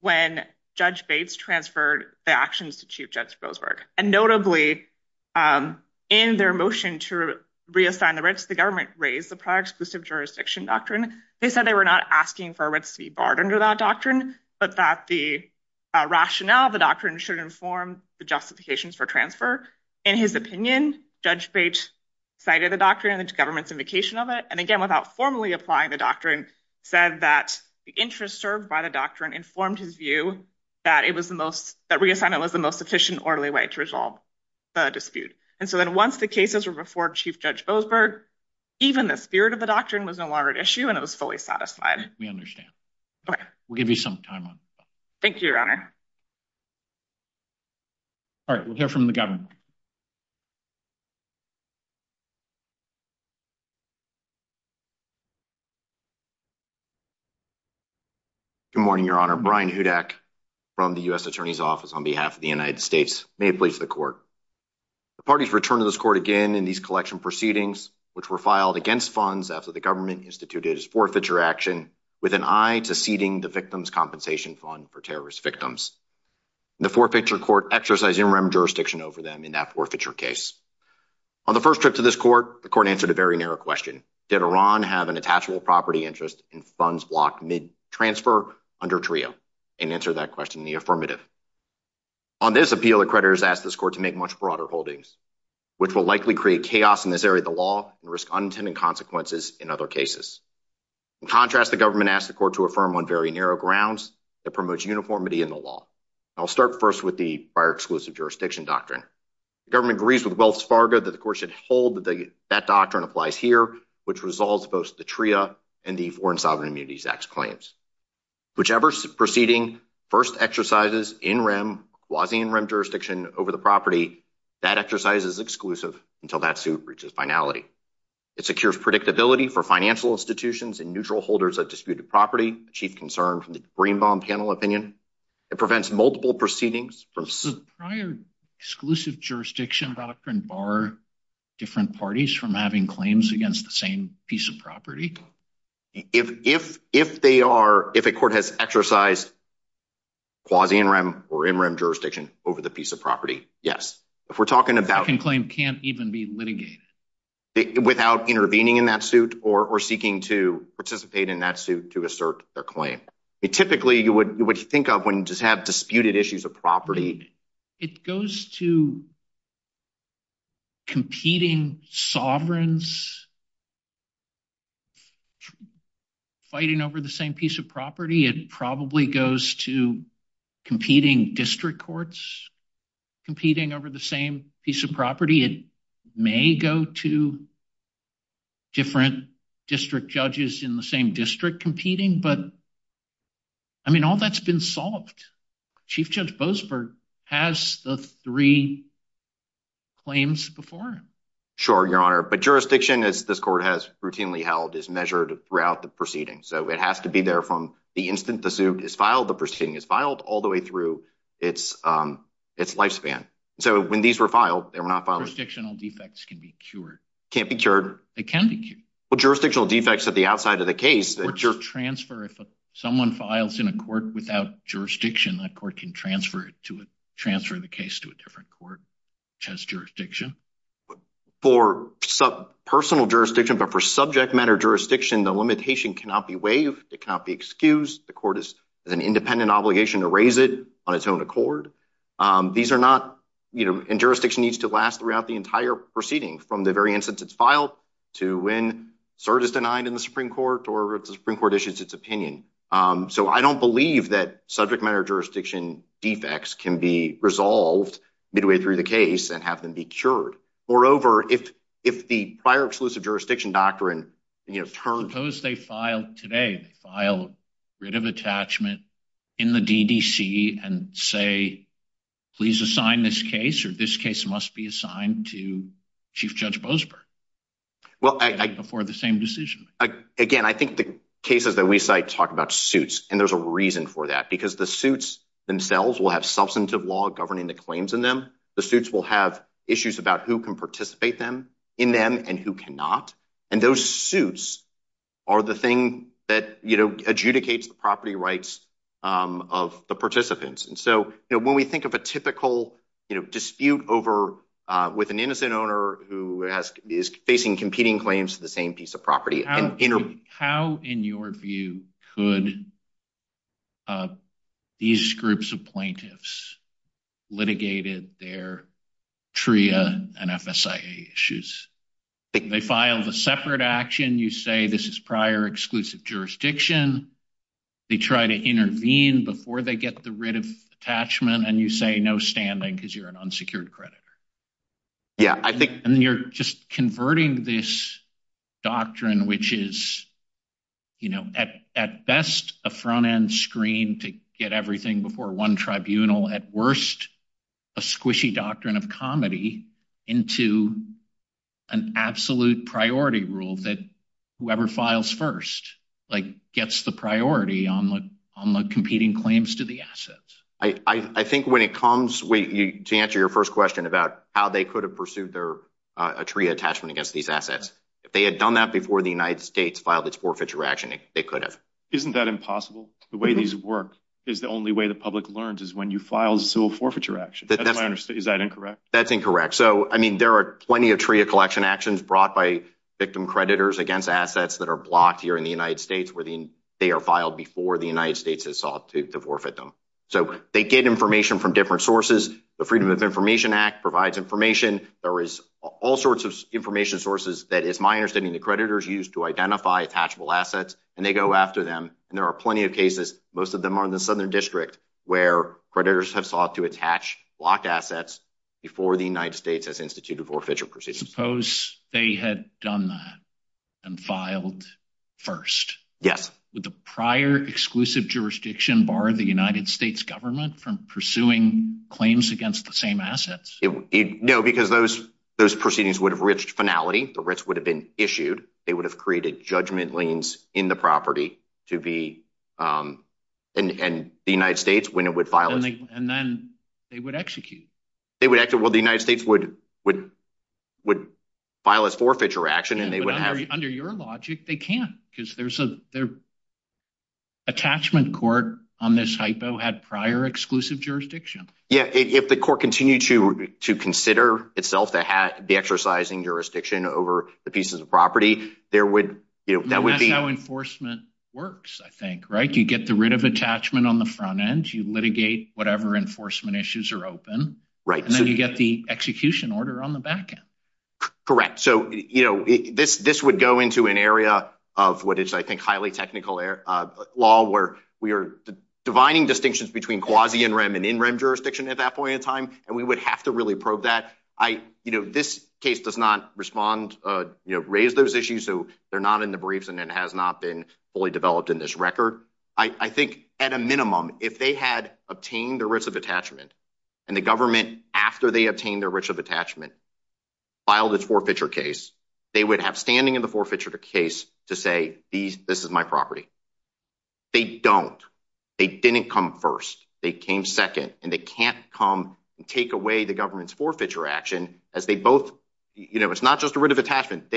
when Judge Bates transferred the actions to Chief Judge Roseberg. And notably, in their motion to reassign the writs, the government raised the prior exclusive jurisdiction doctrine. They said they were not asking for writs to be barred under that doctrine, but that the rationale, the doctrine should inform the justifications for transfer. In his opinion, Judge Bates cited the doctrine and the government's indication of it. And again, without formally applying the doctrine, said that the interest served by the doctrine informed his view that reassignment was the most efficient orderly way to resolve the dispute. And so then once the cases were before Chief Judge Roseberg, even the spirit of the doctrine was no longer an issue and it was fully satisfied. We understand. We'll give you some time on that. Thank you, Your Honor. All right, we'll hear from the government. Good morning, Your Honor. Brian Hudak from the U.S. Attorney's Office on behalf of the United States may please the court. The parties returned to this court again in these collection proceedings, which were filed against funds after the government instituted its forfeiture action with an eye to ceding the victim's compensation fund for terrorist victims. The forfeiture court exercised interim jurisdiction over them in that forfeiture case. On the first trip to this court, the court answered a very narrow question. Did Iran have an attachable property interest and funds block mid-transfer under TRIA and answer that question in the affirmative. On this appeal, the creditors asked this court to make much broader holdings, which will likely create chaos in this area of the law and risk unintended consequences in other cases. In contrast, the government asked the court to affirm on very narrow grounds that promotes uniformity in the law. I'll start first with the prior exclusive jurisdiction doctrine. The government agrees with Wells Fargo that the court should hold that doctrine applies here, which resolves both the TRIA and the Foreign Sovereign Immunities Act claims. Whichever proceeding first exercises in rem, quasi-in rem jurisdiction over the property, that exercise is exclusive until that suit reaches finality. It secures predictability for financial institutions and neutral holders of disputed property, chief concern from the Greenbaum panel opinion. It prevents multiple proceedings. The prior exclusive jurisdiction doctrine bar different parties from having claims against the same piece of property. If they are, if a court has exercised quasi-in rem or in rem jurisdiction over the piece of property, yes. If we're talking about- A claim can't even be litigated. Without intervening in that suit or seeking to participate in that suit to assert a claim. It typically, you would think of when you just have disputed issues of property. It goes to competing sovereigns fighting over the same piece of property. It probably goes to competing district courts competing over the same piece of property. It may go to different district judges in the same district competing, but I mean, all that's been solved. Chief Judge Boasberg has the three claims before him. Sure, your honor, but jurisdiction as this court has routinely held is measured throughout the proceeding. So it has to be there from the instant the suit is filed, the proceeding is filed all the way through its lifespan. So when these were filed, they were not filed- Jurisdictional defects can be cured. Can't be cured. They can be cured. Well, jurisdictional defects at the outside of the case- Or transfer. If someone files in a court without jurisdiction, that court can transfer to it, transfer the case to a different court which has jurisdiction. For personal jurisdiction, but for subject matter jurisdiction, the limitation cannot be waived. It cannot be excused. The court has an independent obligation to raise it on its own accord. These are not- And jurisdiction needs to last throughout the entire proceeding from the very instance it's filed to when cert is denied in the Supreme Court or if the Supreme Court issues its opinion. So I don't believe that subject matter jurisdiction defects can be resolved midway through the case and have them be cured. Moreover, if the prior exclusive jurisdiction doctrine turned- Suppose they filed today, filed writ of attachment in the DDC and say, please assign this case or this case must be assigned to Chief Judge Bozberg before the same decision. Again, I think the cases that we cite talk about suits, and there's a reason for that because the suits themselves will have substantive law governing the claims in them. The suits will have issues about who can participate in them and who cannot. And those suits are the thing that adjudicates the property rights of the participants. And so when we think of a typical dispute over with an innocent owner who is facing competing claims to the same piece of property- How, in your view, could these groups of plaintiffs litigate their TRIA and FSIA issues? They filed a separate action, you say this is prior exclusive jurisdiction, they try to intervene before they get the writ of attachment, and you say no standing because you're an unsecured creditor. Yeah, I think- And you're just converting this doctrine, which is at best a front-end screen to get everything before one tribunal, at worst, a squishy doctrine of comedy into an absolute priority rule that whoever files first gets the priority on the competing claims to the assets. I think when it comes- Wait, to answer your first question about how they could have pursued a TRIA attachment against these assets, if they had done that before the United States filed its forfeiture action, they could have. Isn't that impossible? The way these work is the only way the public learns is when you file a forfeiture action. Is that incorrect? That's incorrect. There are plenty of TRIA collection actions brought by victim creditors against assets that are blocked here in the United States where they are filed before the United States has sought to forfeit them. They get information from different sources. The Freedom of Information Act provides information. There is all sorts of information sources that is, my understanding, the creditors use to identify attachable assets, and they go after them. There are plenty of cases. Most of them are in the Southern District where creditors have sought to attach blocked assets before the United States has instituted forfeiture proceedings. Suppose they had done that and filed first. Yes. Would the prior exclusive jurisdiction bar the United States government from pursuing claims against the same assets? No, because those proceedings would have reached finality. The writs would have been issued. They would have created judgment liens in the property to be... And the United States, when it would file... And then they would execute. Well, the United States would file its forfeiture action, and they would have... Under your logic, they can't, because there's an attachment court on this hypo had prior exclusive jurisdiction. Yeah, if the court continued to consider itself to have the exercising jurisdiction over the pieces of property, there would, you know, that would be... That's how enforcement works, I think, right? You get the writ of attachment on the front end. You litigate whatever enforcement issues are open. Right. And then you get the execution order on the back end. Correct. So, you know, this would go into an area of what is, I think, highly technical law, where we are divining distinctions between quasi-in-rem and in-rem jurisdiction at that point in time. And we would have to really probe that. I, you know, this case does not respond, you know, raise those issues. So they're not in the briefs, and it has not been fully developed in this record. I think at a minimum, if they had obtained the writs of attachment and the government, after they obtained their writs of attachment, filed its forfeiture case, they would have standing in the forfeiture case to say, this is my property. They don't. They didn't come first. They came second. And they can't come and take away the government's forfeiture action as they both, you know, it's not just a writ of attachment.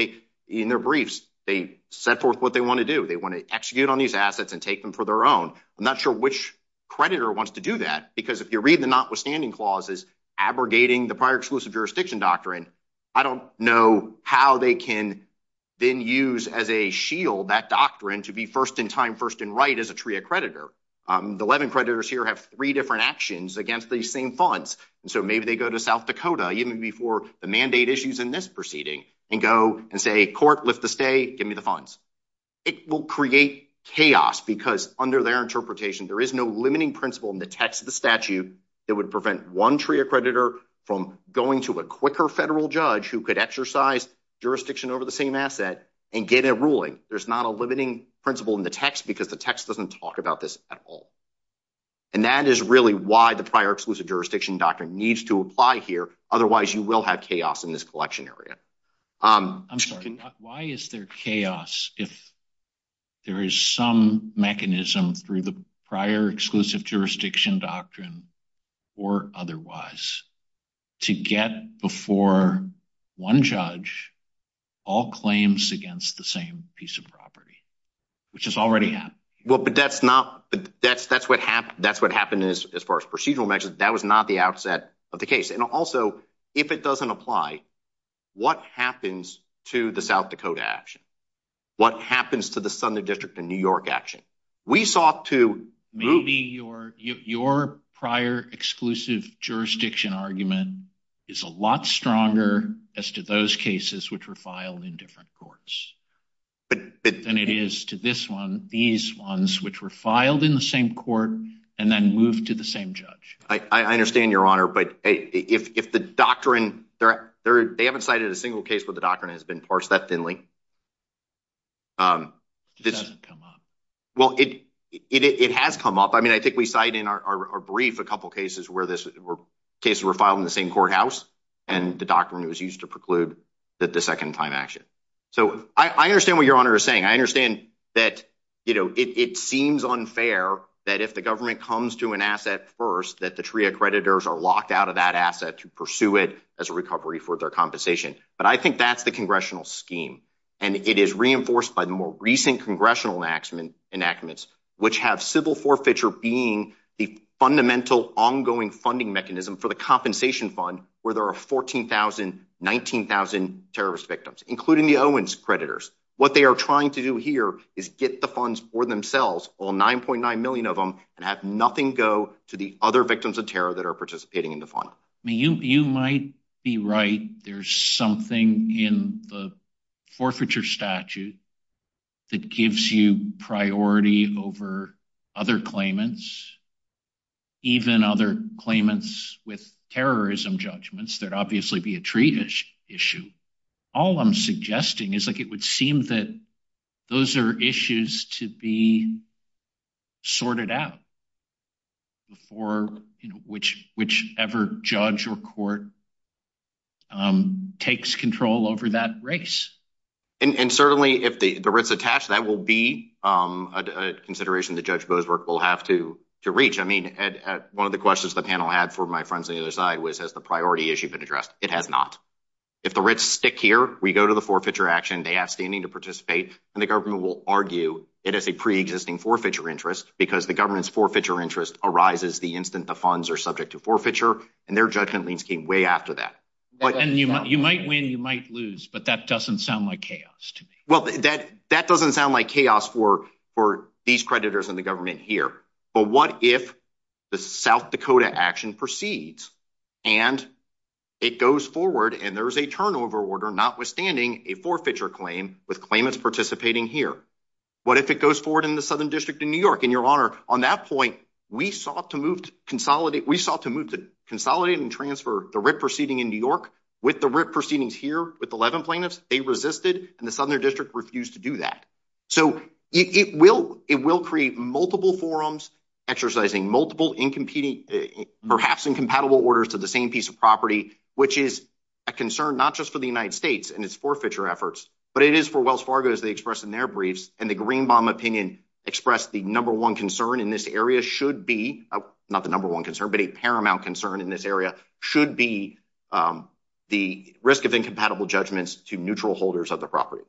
In their briefs, they set forth what they want to do. They want to execute on these assets and take them for their own. I'm not sure which creditor wants to do that, because if you read the notwithstanding clauses, abrogating the prior exclusive jurisdiction doctrine, I don't know how they can then use as a shield that doctrine to be first in time, first in right as a TRIA creditor. The Levin creditors here have three different actions against these same funds. And so maybe they go to South Dakota, even before the mandate issues in this proceeding, and go and say, court, lift the stay, give me the funds. It will create chaos, because under their interpretation, there is no limiting principle in the text of the statute that would prevent one TRIA creditor from going to a quicker federal judge who could exercise jurisdiction over the same asset and get a ruling. There's not a limiting principle in the text, because the text doesn't talk about this at all. And that is really why the prior exclusive jurisdiction doctrine needs to apply here. Otherwise, you will have chaos in this collection area. I'm sorry, why is there chaos if there is some mechanism through the prior exclusive jurisdiction doctrine or otherwise, to get before one judge all claims against the same piece of property, which has already happened? Well, but that's not, that's what happened as far as procedural measures. That was not the outset of the case. And also, if it doesn't apply, what happens to the South Dakota action? What happens to the Sunday District in New York action? We saw two groups. Maybe your prior exclusive jurisdiction argument is a lot stronger as to those cases which were filed in different courts. And it is to this one, these ones, which were filed in the same court and then moved to the same judge. I understand, Your Honor, but if the doctrine, they haven't cited a single case where the doctrine has been parsed that thinly. It doesn't come up. Well, it has come up. I mean, I think we cite in our brief a couple of cases where this case were filed in the same courthouse and the doctrine was used to preclude that the second time action. So I understand what Your Honor is saying. I understand that, you know, it seems unfair that if the government comes to an asset first, that the three accreditors are locked out of that asset to pursue it as a recovery for their compensation. But I think that's the congressional scheme. And it is reinforced by the more recent congressional enactments, which have civil forfeiture being a fundamental ongoing funding mechanism for the compensation fund where there are 14,000, 19,000 terrorist victims, including the Owens creditors. What they are trying to do here is get the funds for themselves, all 9.9 million of them and have nothing go to the other victims of terror that are participating in the fund. I mean, you might be right. There's something in the forfeiture statute that gives you priority over other claimants, even other claimants with terrorism judgments that obviously be a treaty issue. All I'm suggesting is like it would seem that those are issues to be sorted out before, you know, whichever judge or court takes control over that race. And certainly if the writ's attached, that will be a consideration that Judge Bozwerk will have to reach. I mean, one of the questions the panel had for my friends on the other side was, has the priority issue been addressed? It has not. If the writs stick here, we go to the forfeiture action, they ask any to participate and the government will argue it is a pre-existing forfeiture interest because the government's forfeiture interest arises the instant the funds are subject to forfeiture and their judgment leans in way after that. And you might win, you might lose, but that doesn't sound like chaos to me. Well, that doesn't sound like chaos for these creditors and the government here. But what if the South Dakota action proceeds and it goes forward and there's a turnover order, notwithstanding a forfeiture claim with claimants participating here? What if it goes forward in the Southern District in New York? And Your Honor, on that point, we sought to move to consolidate, we sought to move to consolidate and transfer the writ proceeding in New York with the writ proceedings here with the Levin plaintiffs. They resisted and the Southern District refused to do that. So it will create multiple forums exercising multiple perhaps incompatible orders to the same piece of property, which is a concern not just for the United States and its forfeiture efforts, but it is for Wells Fargo, as they expressed in their briefs. And the Greenbaum opinion expressed the number one concern in this area should be, not the number one concern, but a paramount concern in this area should be the risk of incompatible judgments to neutral holders of the property.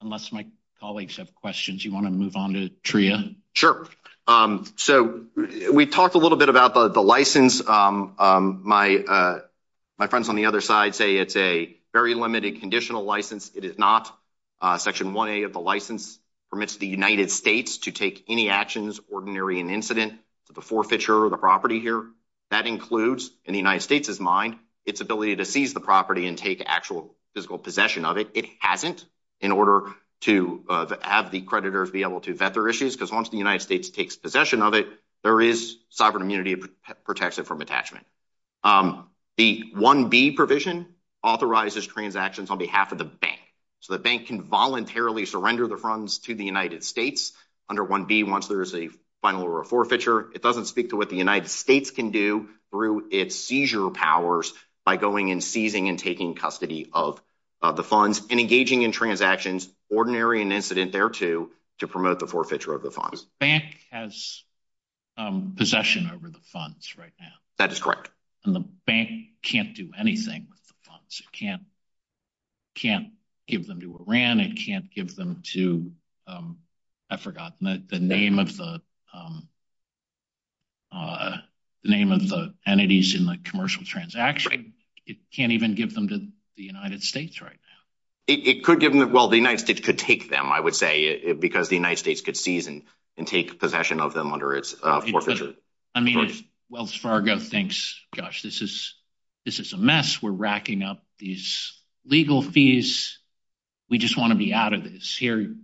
Unless my colleagues have questions, you want to move on to Tria? Sure. So we talked a little bit about the license. My friends on the other side say it's a very limited conditional license. It is not. Section 1A of the license permits the United States to take any actions ordinary in incident to the forfeiture of the property here. That includes, in the United States' mind, ability to seize the property and take actual physical possession of it. It hasn't in order to have the creditors be able to vet their issues, because once the United States takes possession of it, there is sovereign immunity that protects it from attachment. The 1B provision authorizes transactions on behalf of the bank. So the bank can voluntarily surrender the funds to the United States under 1B once there is a final forfeiture. It doesn't speak to what the United States can do through its seizure power by going and seizing and taking custody of the funds and engaging in transactions ordinary in incident thereto to promote the forfeiture of the funds. The bank has possession over the funds right now. That is correct. And the bank can't do anything with the funds. It can't give them to Iran. It can't give them to, I forgot the name of the entities in the commercial transaction. It can't even give them to the United States right now. It could give them, well, the United States could take them, I would say, because the United States could seize and take possession of them under its forfeiture. I mean, Wells Fargo thinks, gosh, this is a mess. We're racking up these legal fees. We just want to be out of this. Here, the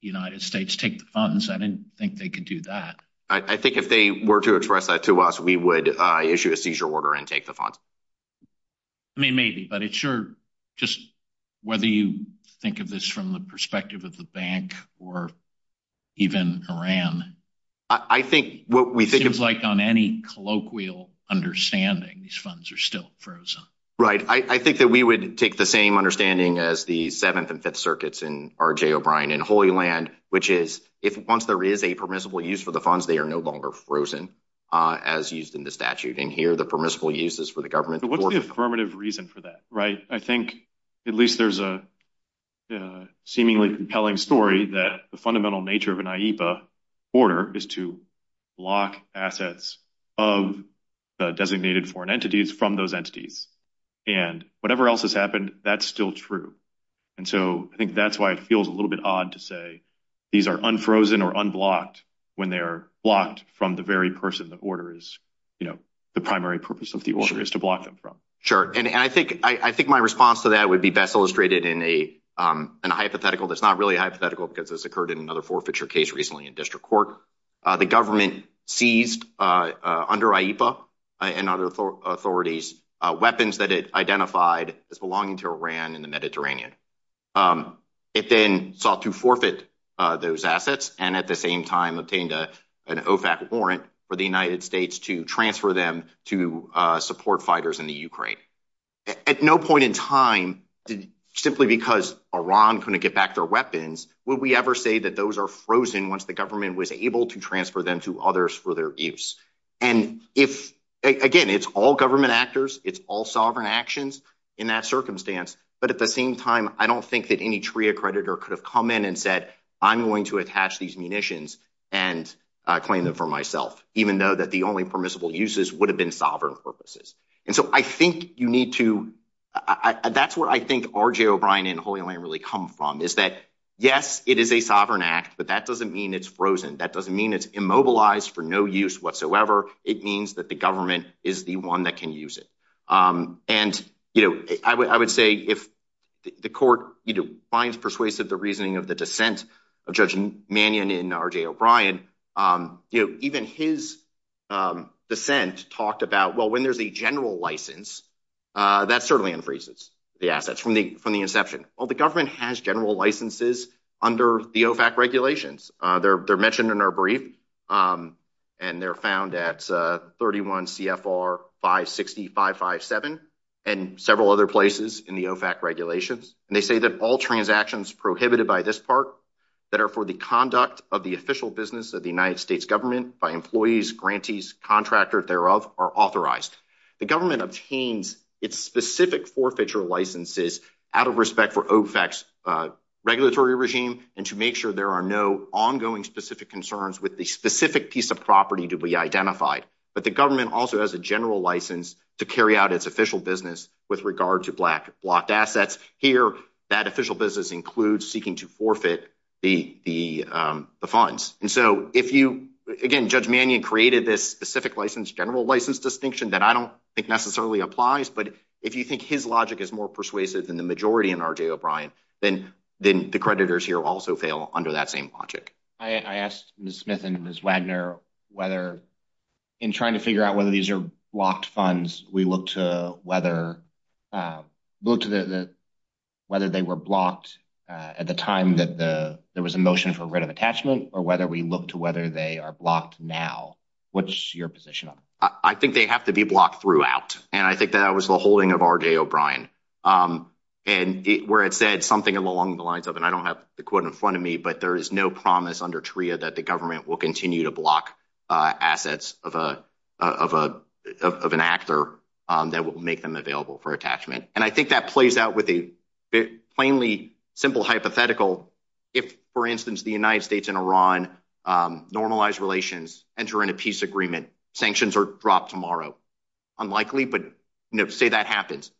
United States take the funds. I didn't think they could do that. I think if they were to express that to us, we would issue a seizure order and take the funds. I mean, maybe, but it's sure just whether you think of this from the perspective of the bank or even Iran, I think what we think is like on any colloquial understanding, these funds are still frozen. Right. I think that we would take the same understanding as the Seventh and Fifth Circuits in R.J. O'Brien and Holy Land, which is if once there is a permissible use for the funds, they are no longer frozen as used in the statute. And here, the permissible use is for the government. What's the affirmative reason for that? Right. I think at least there's a seemingly compelling story that the fundamental nature of an IEPA order is to block assets of the designated foreign entities from those entities. And whatever else has happened, that's still true. And so I think that's why it feels a little bit odd to say these are unfrozen or unblocked when they're blocked from the very person the order is, you know, the primary purpose of the order is to block them from. And I think my response to that would be best illustrated in a hypothetical that's not really hypothetical because this occurred in another forfeiture case recently in district court. The government seized under IEPA and other authorities weapons that it identified as belonging to Iran in the Mediterranean. It then sought to forfeit those assets and at the same time obtained an OFAC warrant for the United States to transfer them to support fighters in the Ukraine. At no point in time, simply because Iran couldn't get back their weapons, would we ever say that those are frozen once the government was able to transfer them to others for their abuse? And if again, it's all government actors, it's all sovereign actions in that circumstance. But at the same time, I don't think that any TRIA creditor could have come in and said, I'm going to attach these munitions and claim them for myself, even though that the only permissible uses would have been sovereign purposes. And so I think you need to, that's where I think RJ O'Brien and Holy Land really come from is that, yes, it is a sovereign act, but that doesn't mean it's frozen. That doesn't mean it's immobilized for no use whatsoever. It means that the government is the one that can use it. And, you know, I would say if the court finds persuasive the reasoning of the dissent of Judge Mannion and RJ O'Brien, even his dissent talked about, well, when there's a general license, that certainly increases the assets from the inception. Well, the government has general licenses under the OFAC regulations. They're mentioned in our brief and they're found at 31 CFR 56557 and several other places in the OFAC regulations. And they say that all transactions prohibited by this part that are for the conduct of the official business of the United States government by employees, grantees, contractor thereof are authorized. The government obtains its specific forfeiture licenses out of respect for OFAC's regulatory regime and to make sure there are no ongoing specific concerns with the specific piece of property to be identified. But the government also has a general license to carry out its official business with regard to black blocked assets. Here, that official business includes seeking to forfeit the funds. And so if you, again, Judge Mannion created this specific license, general license distinction that I don't think necessarily applies. But if you think his logic is more persuasive than the majority in R.J. O'Brien, then the creditors here also fail under that same logic. I asked Ms. Smith and Ms. Wagner whether in trying to figure out whether these are blocked funds, we look to whether they were blocked at the time that there was a motion for writ of attachment or whether we look to whether they are blocked now. What's your position on that? I think they have to be blocked throughout. And I think that was the holding of R.J. O'Brien. And where it said something along the lines of, and I don't have the quote in front of me, but there is no promise under TRIA that the government will continue to block assets of an actor that will make them available for attachment. And I think that plays out with a plainly simple hypothetical. If, for instance, the United States and Iran normalize relations, enter into peace agreement, sanctions are dropped tomorrow. Unlikely, but say that happens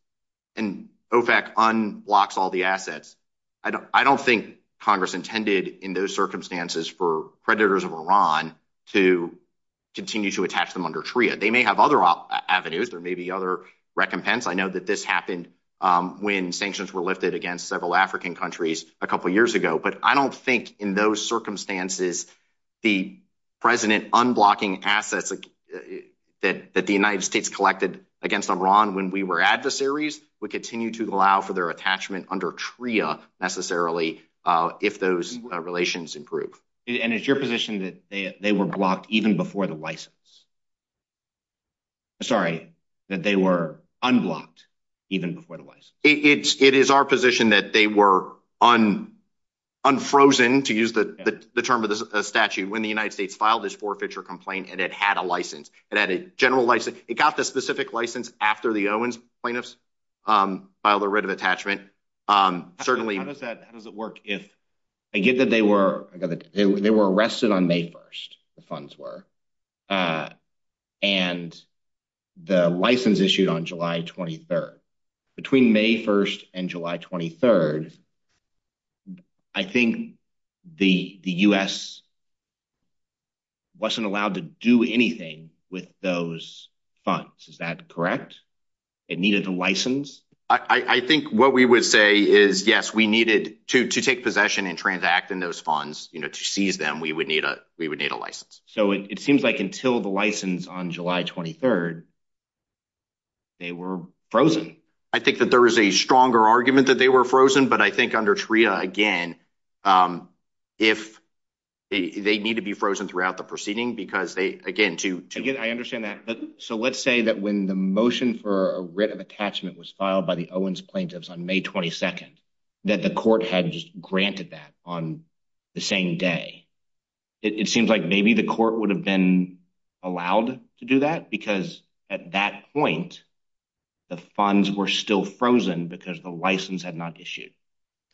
and OFAC unblocks all the assets. I don't think Congress intended in those circumstances for predators of Iran to continue to attach them under TRIA. They may have other avenues or maybe other recompense. I know that this happened when sanctions were lifted against several African countries a couple of years ago. But I don't think in those circumstances, the president unblocking assets that the United States collected against Iran when we were adversaries would continue to allow for their attachment under TRIA necessarily if those relations improve. And it's your position that they were blocked even before the license. Sorry, that they were unblocked even before the license. It is our position that they were unfrozen, to use the term of the statute, when the United States filed this forfeiture complaint and it had a license, it had a general license. It got the specific license after the Owens plaintiffs filed a writ of attachment. Certainly, how does it work if I get that they were arrested on May 1st, the funds were, and the license issued on July 23rd. Between May 1st and July 23rd, I think the U.S. wasn't allowed to do anything with those funds. Is that correct? It needed a license? I think what we would say is, yes, we needed to take possession and transact in those funds, to seize them, we would need a license. So it seems like until the license on July 23rd, they were frozen. I think that there is a stronger argument that they were frozen, but I think under TRIA, again, if they need to be frozen throughout the proceeding because they, again, to- I understand that. So let's say that when the motion for a writ of attachment was filed by the Owens plaintiffs on May 22nd, that the court had granted that on the same day. It seems like maybe the court would have been allowed to do that because at that point, the funds were still frozen because the license had not issued.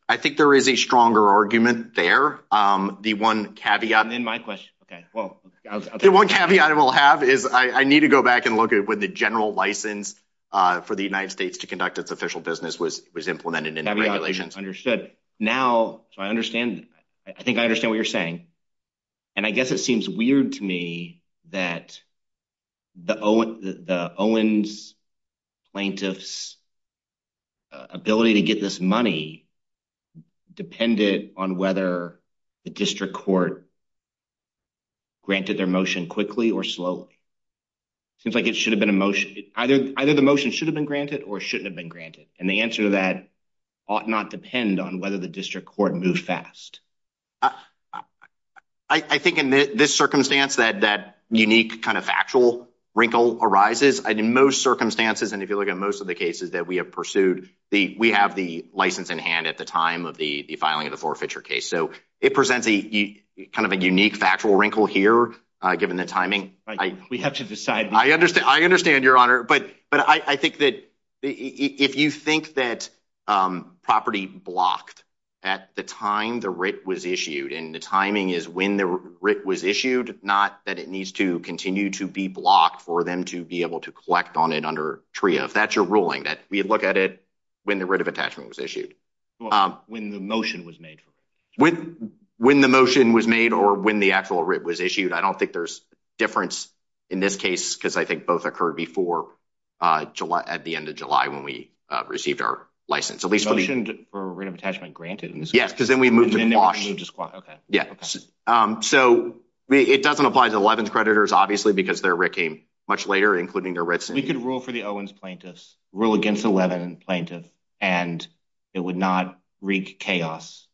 I think there is a stronger argument there. The one caveat- And then my question- Okay, well- The one caveat I will have is, I need to go back and look at when the general license for the United States to conduct its official business was implemented in the regulations. Understood. Now, so I understand- I think I understand what you're saying. And I guess it seems weird to me that the Owens plaintiffs' ability to get this money depended on whether the district court granted their motion quickly or slowly. It seems like it should have been a motion. Either the motion should have been granted or shouldn't have been granted. And the answer to that ought not depend on whether the district court moved fast. I think in this circumstance, that unique kind of factual wrinkle arises. In most circumstances, and if you look at most of the cases that we have pursued, we have the license in hand at the time of the filing of the forfeiture case. So it presents kind of a unique factual wrinkle here, given the timing. We have to decide- I understand, Your Honor. But I think that if you think that property blocked at the time the writ was issued, and the timing is when the writ was issued, not that it needs to continue to be blocked for them to be able to collect on it under TRIA. If that's your ruling, that we look at it when the writ of attachment was issued. When the motion was made. When the motion was made or when the actual writ was issued. I don't think there's difference in this case because I think both occurred before July, at the end of July, when we received our license. At least for the- So they shouldn't get their writ of attachment granted in this case? Yes, because then we move to quash. So it doesn't apply to Levin's creditors, obviously, because their writ came much later, including their writs. You could rule for the Owens plaintiffs, rule against a Levin plaintiff, and it would not wreak chaos.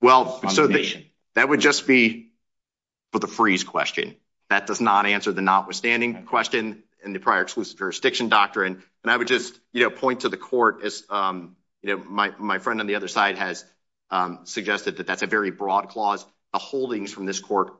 Well, so that would just be for the freeze question. That does not answer the notwithstanding question in the prior exclusive jurisdiction doctrine. And I would just point to the court, as my friend on the other side has suggested, that that's a very broad clause. The holdings from this court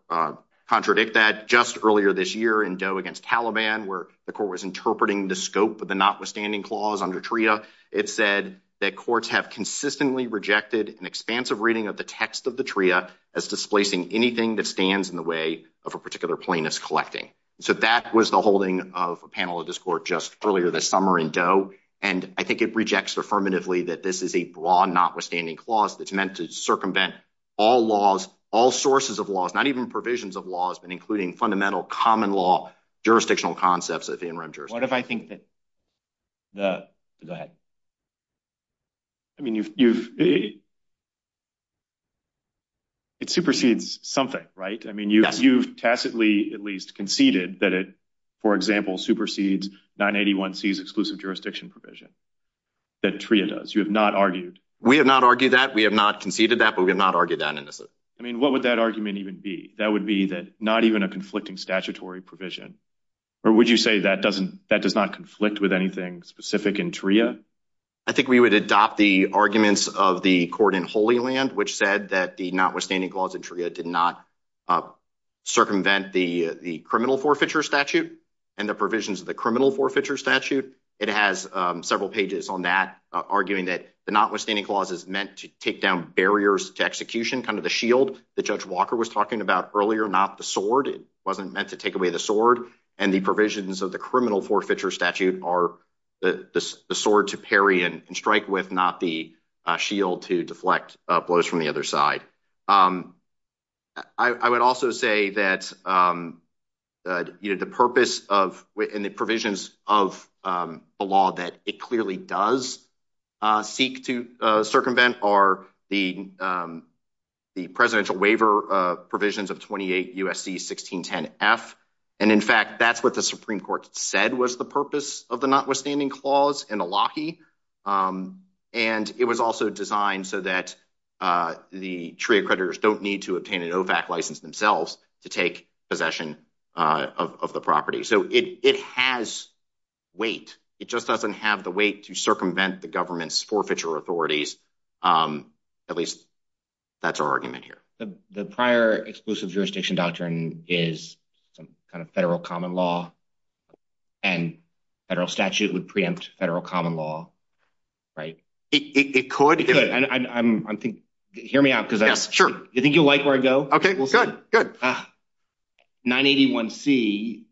contradict that. Just earlier this year in Doe against Taliban, where the court was interpreting the scope of the notwithstanding clause under TRIA, it said that courts have consistently rejected an expansive reading of the text of the TRIA as displacing anything that stands in the way of a particular plaintiff's collecting. So that was the holding of a panel of this court just earlier this summer in Doe. And I think it rejects affirmatively that this is a broad notwithstanding clause that's meant to circumvent all laws, all sources of laws, not even provisions of laws, but including fundamental common law jurisdictional concepts of the interim jurisdiction. What if I think that, that, I mean, it supersedes something, right? I mean, you tacitly, at least conceded that it, for example, supersedes 981C's exclusive jurisdiction provision that TRIA does. You have not argued. We have not argued that. We have not conceded that, but we have not argued that. I mean, what would that argument even be? That would be that not even a conflicting statutory provision, or would you say that doesn't, that does not conflict with anything specific in TRIA? I think we would adopt the arguments of the court in Holy Land, which said that the notwithstanding clause did not circumvent the criminal forfeiture statute and the provisions of the criminal forfeiture statute. It has several pages on that arguing that the notwithstanding clause is meant to take down barriers to execution, kind of the shield that Judge Walker was talking about earlier, not the sword. It wasn't meant to take away the sword and the provisions of the criminal forfeiture statute are the sword to parry and strike with, not the shield to deflect blows from the other side. I would also say that the purpose of, and the provisions of the law that it clearly does seek to circumvent are the presidential waiver provisions of 28 U.S.C. 1610F. And in fact, that's what the Supreme Court said was the purpose of the notwithstanding clause and the Lockheed. And it was also designed so that the TRIA creditors don't need to obtain an OFAC license themselves to take possession of the property. So it has weight. It just doesn't have the weight to circumvent the government's forfeiture authorities. At least that's our argument here. The prior exclusive jurisdiction doctrine is some kind of federal common law and federal statute would preempt federal common law, right? It could, and I think, hear me out. Cause I think you'll like where I go. Okay, well, good, good. 981C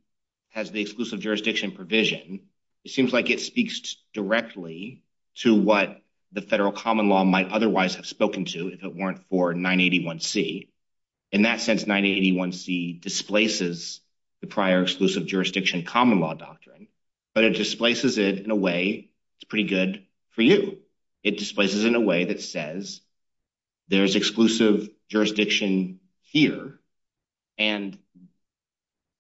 has the exclusive jurisdiction provision. It seems like it speaks directly to what the federal common law might otherwise have spoken to if it weren't for 981C. In that sense, 981C displaces the prior exclusive jurisdiction common law doctrine, but it displaces it in a way it's pretty good for you. It displaces in a way that says there's exclusive jurisdiction here and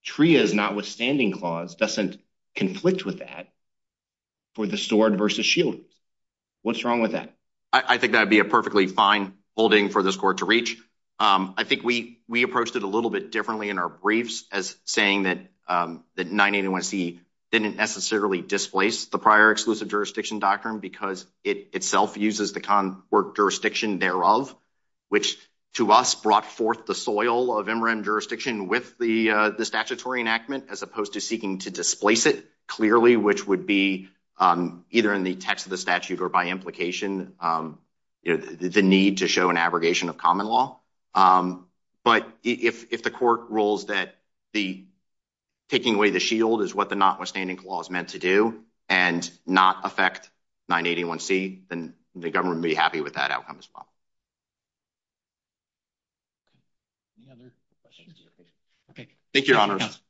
TRIA's notwithstanding clause doesn't conflict with that for the stored versus shielded. What's wrong with that? I think that'd be a perfectly fine holding for this court to reach. I think we approached it a little bit differently in our briefs as saying that 981C didn't necessarily displace the prior exclusive jurisdiction doctrine because it itself uses the jurisdiction thereof, which to us brought forth the soil of MRM jurisdiction with the statutory enactment as opposed to seeking to displace it clearly, which would be either in the text of the statute or by implication, the need to show an abrogation of common law. But if the court rules that taking away the shield is what the notwithstanding clause meant to do and not affect 981C, then the government would be happy with that outcome as well. Thank you, Your Honors.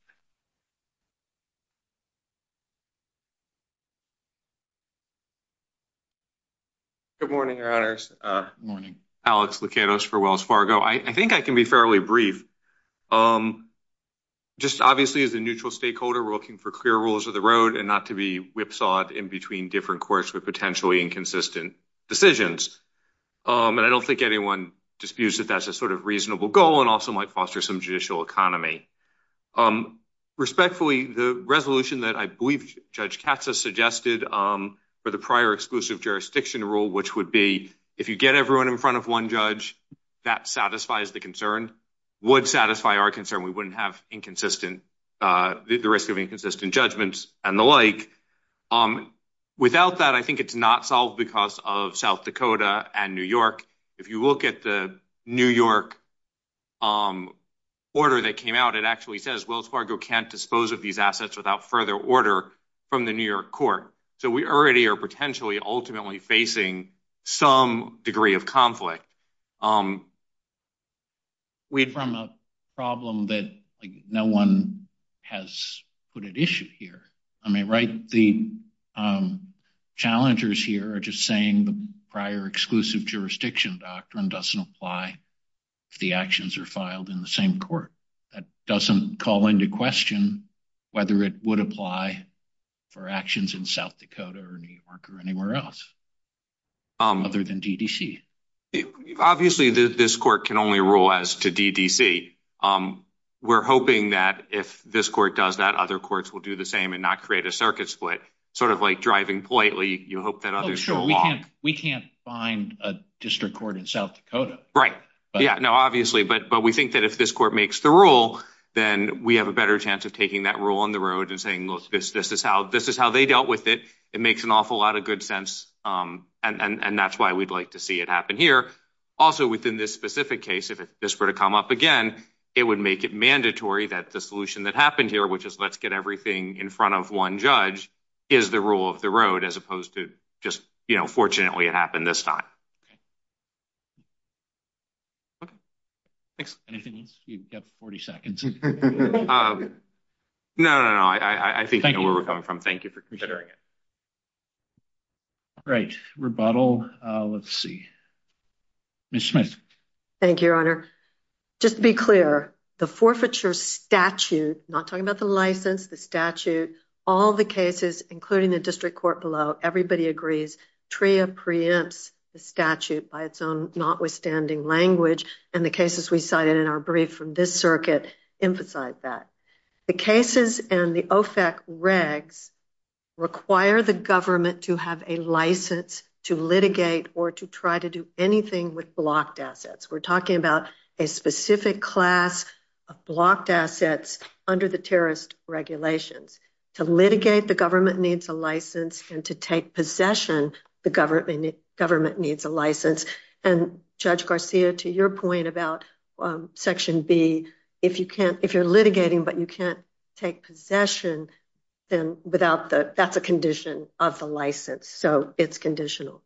Good morning, Your Honors. Good morning. Alex Lakatos for Wells Fargo. I think I can be fairly brief. Just obviously as a neutral stakeholder, we're looking for clear rules of the road and not to be whipsawed in between different courts with potentially inconsistent decisions. And I don't think anyone disputes that that's a sort of reasonable goal and also might foster some judicial economy. Respectfully, the resolution that I believe Judge Katz has suggested for the prior exclusive jurisdiction rule, which would be if you get everyone in front of one judge, that satisfies the concern, would satisfy our concern. We wouldn't have inconsistent, the risk of inconsistent judgments and the like. Without that, I think it's not solved because of South Dakota and New York. If you look at the New York order that came out, it actually says Wells Fargo can't dispose of these assets without further order from the New York court. So we already are potentially ultimately facing some degree of conflict. We're from a problem that no one has put an issue here. I mean, right, the challengers here are just saying the prior exclusive jurisdiction doctrine doesn't apply to the actions that are filed in the same court. That doesn't call into question whether it would apply for actions in South Dakota or New York or anywhere else other than DDC. Obviously, this court can only rule as to DDC. We're hoping that if this court does that, other courts will do the same and not create a circuit split. Sort of like driving politely, you hope that others don't walk. We can't find a district court in South Dakota. Right, yeah, no, obviously. But we think that if this court makes the rule, then we have a better chance of taking that rule on the road and saying, look, this is how they dealt with it. It makes an awful lot of good sense. And that's why we'd like to see it happen here. Also within this specific case, if this were to come up again, it would make it mandatory that the solution that happened here, which is let's get everything in front of one judge, is the rule of the road as opposed to just, you know, fortunately it happened this time. Okay, thanks. Anything else? You have 40 seconds. No, no, no, I think you know where we're coming from. Thank you for considering it. All right, rebuttal, let's see. Ms. Schmitz. Thank you, Your Honor. Just to be clear, the forfeiture statute, not talking about the license, the statute, all the cases, including the district court below, everybody agrees TRIA preempts the statute by its own notwithstanding language and the cases we cited in our brief from this circuit emphasize that. The cases and the OFAC regs require the government to have a license to litigate or to try to do anything with blocked assets. We're talking about a specific class of blocked assets under the terrorist regulations. To litigate, the government needs a license and to take possession, the government needs a license. And Judge Garcia, to your point about Section B, if you can't, if you're litigating but you can't take possession, then that's a condition of the license. So it's conditional.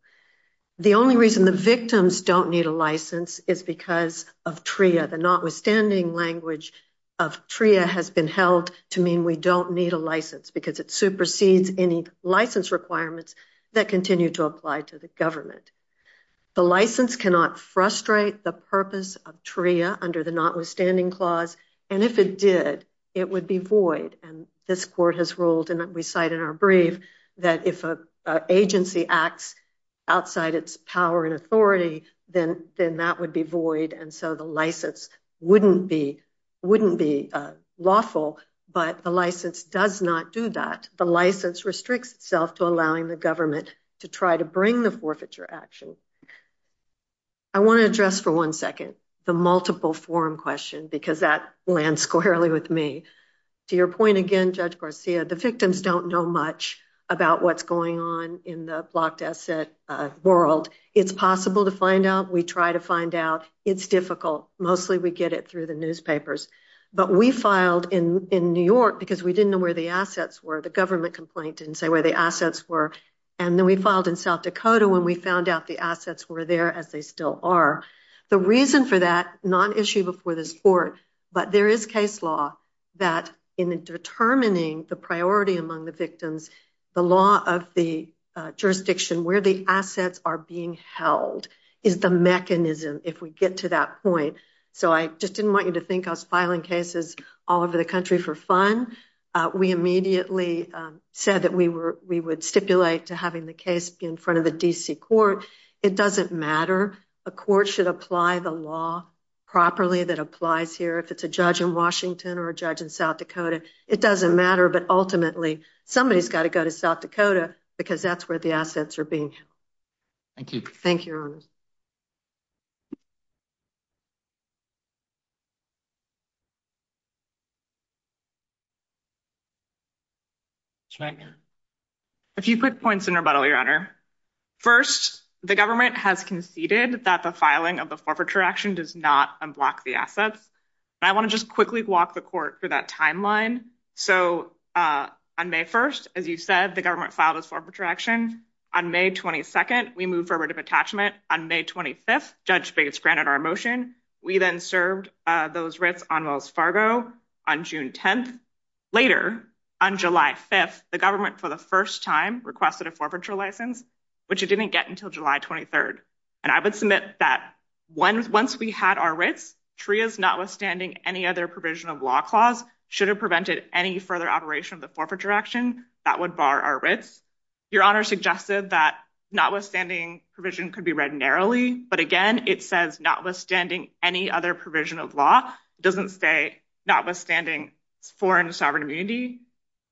The only reason the victims don't need a license is because of TRIA, the notwithstanding language of TRIA has been held to mean we don't need a license because it supersedes any license requirements that continue to apply to the government. The license cannot frustrate the purpose of TRIA under the notwithstanding clause. And if it did, it would be void. And this court has ruled, and we cite in our brief, that if an agency acts outside its power and authority, then that would be void. And so the license wouldn't be lawful, but the license does not do that. The license restricts itself to allowing the government to try to bring the forfeiture action. I want to address for one second the multiple form question because that lands squarely with me. To your point again, Judge Garcia, the victims don't know much about what's going on in the blocked asset world. It's possible to find out. We try to find out. It's difficult. Mostly we get it through the newspapers. But we filed in New York because we didn't know where the assets were. The government complaint didn't say where the assets were. And then we filed in South Dakota when we found out the assets were there as they still are. The reason for that, non-issue before this court, but there is case law that in determining the priority among the victims, the law of the jurisdiction where the assets are being held is the mechanism if we get to that point. So I just didn't want you to think I was filing cases all over the country for fun. We immediately said that we would stipulate to having the case in front of the D.C. court. It doesn't matter. A court should apply the law properly that applies here. If it's a judge in Washington or a judge in South Dakota, it doesn't matter. But ultimately somebody's got to go to South Dakota because that's where the assets are being held. Thank you. Thank you. A few quick points in rebuttal, Your Honor. First, the government has conceded that the filing of the forfeiture action does not unblock the assets. And I want to just quickly walk the court through that timeline. So on May 1st, as you said, the government filed a forfeiture action. On May 22nd, we moved forward to detachment. On May 25th, Judge Bates granted our motion. We then served those writs on Wells Fargo on June 10th. Later, on July 5th, the government for the first time requested a forfeiture license, which it didn't get until July 23rd. And I would submit that once we had our writs, TRIA's notwithstanding any other provision of law clause should have prevented any further operation of the forfeiture action that would bar our writs. Your Honor suggested that notwithstanding provision could be read narrowly, but again, it says notwithstanding any other provision of law. It doesn't say notwithstanding foreign sovereign immunity.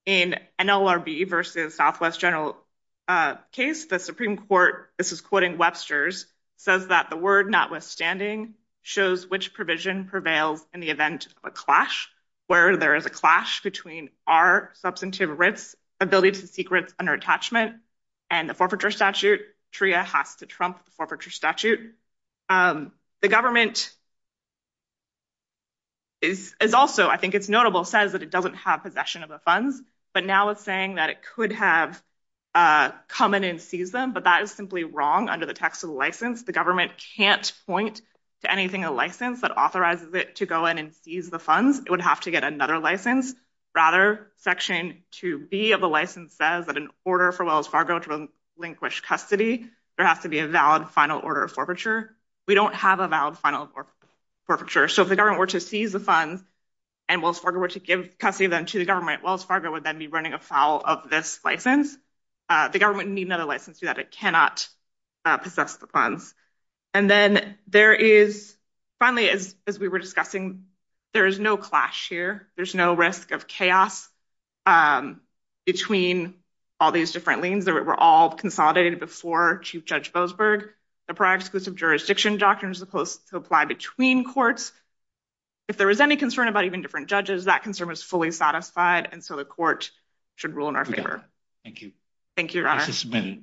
In NLRB versus Southwest General case, the Supreme Court, this is quoting Webster's, says that the word notwithstanding shows which provision prevails in the event of a clash, where there is a clash between our substantive writs, ability to seek writs under attachment, and the forfeiture statute. TRIA has to trump the forfeiture statute. The government is also, I think it's notable, says that it doesn't have possession of the funds, but now it's saying that it could have come in and seize them, but that is simply wrong under the text of the license. The government can't point to anything a license that authorizes it to go in and seize the funds. It would have to get another license, rather section 2B of the license says that in order for Wells Fargo to relinquish custody, there has to be a valid final order of forfeiture. We don't have a valid final order of forfeiture. So if the government were to seize the funds and Wells Fargo were to give custody of them to the government, Wells Fargo would then be running afoul of this license. The government would need another license to do that. It cannot possess the funds. And then there is, finally, as we were discussing, there is no clash here. There's no risk of chaos between all these different liens. They were all consolidated before Chief Judge Boasberg. The pro-exclusive jurisdiction doctrine is supposed to apply between courts. If there is any concern about even different judges, that concern was fully satisfied, and so the court should rule in our favor. Thank you. Thank you, Your Honor.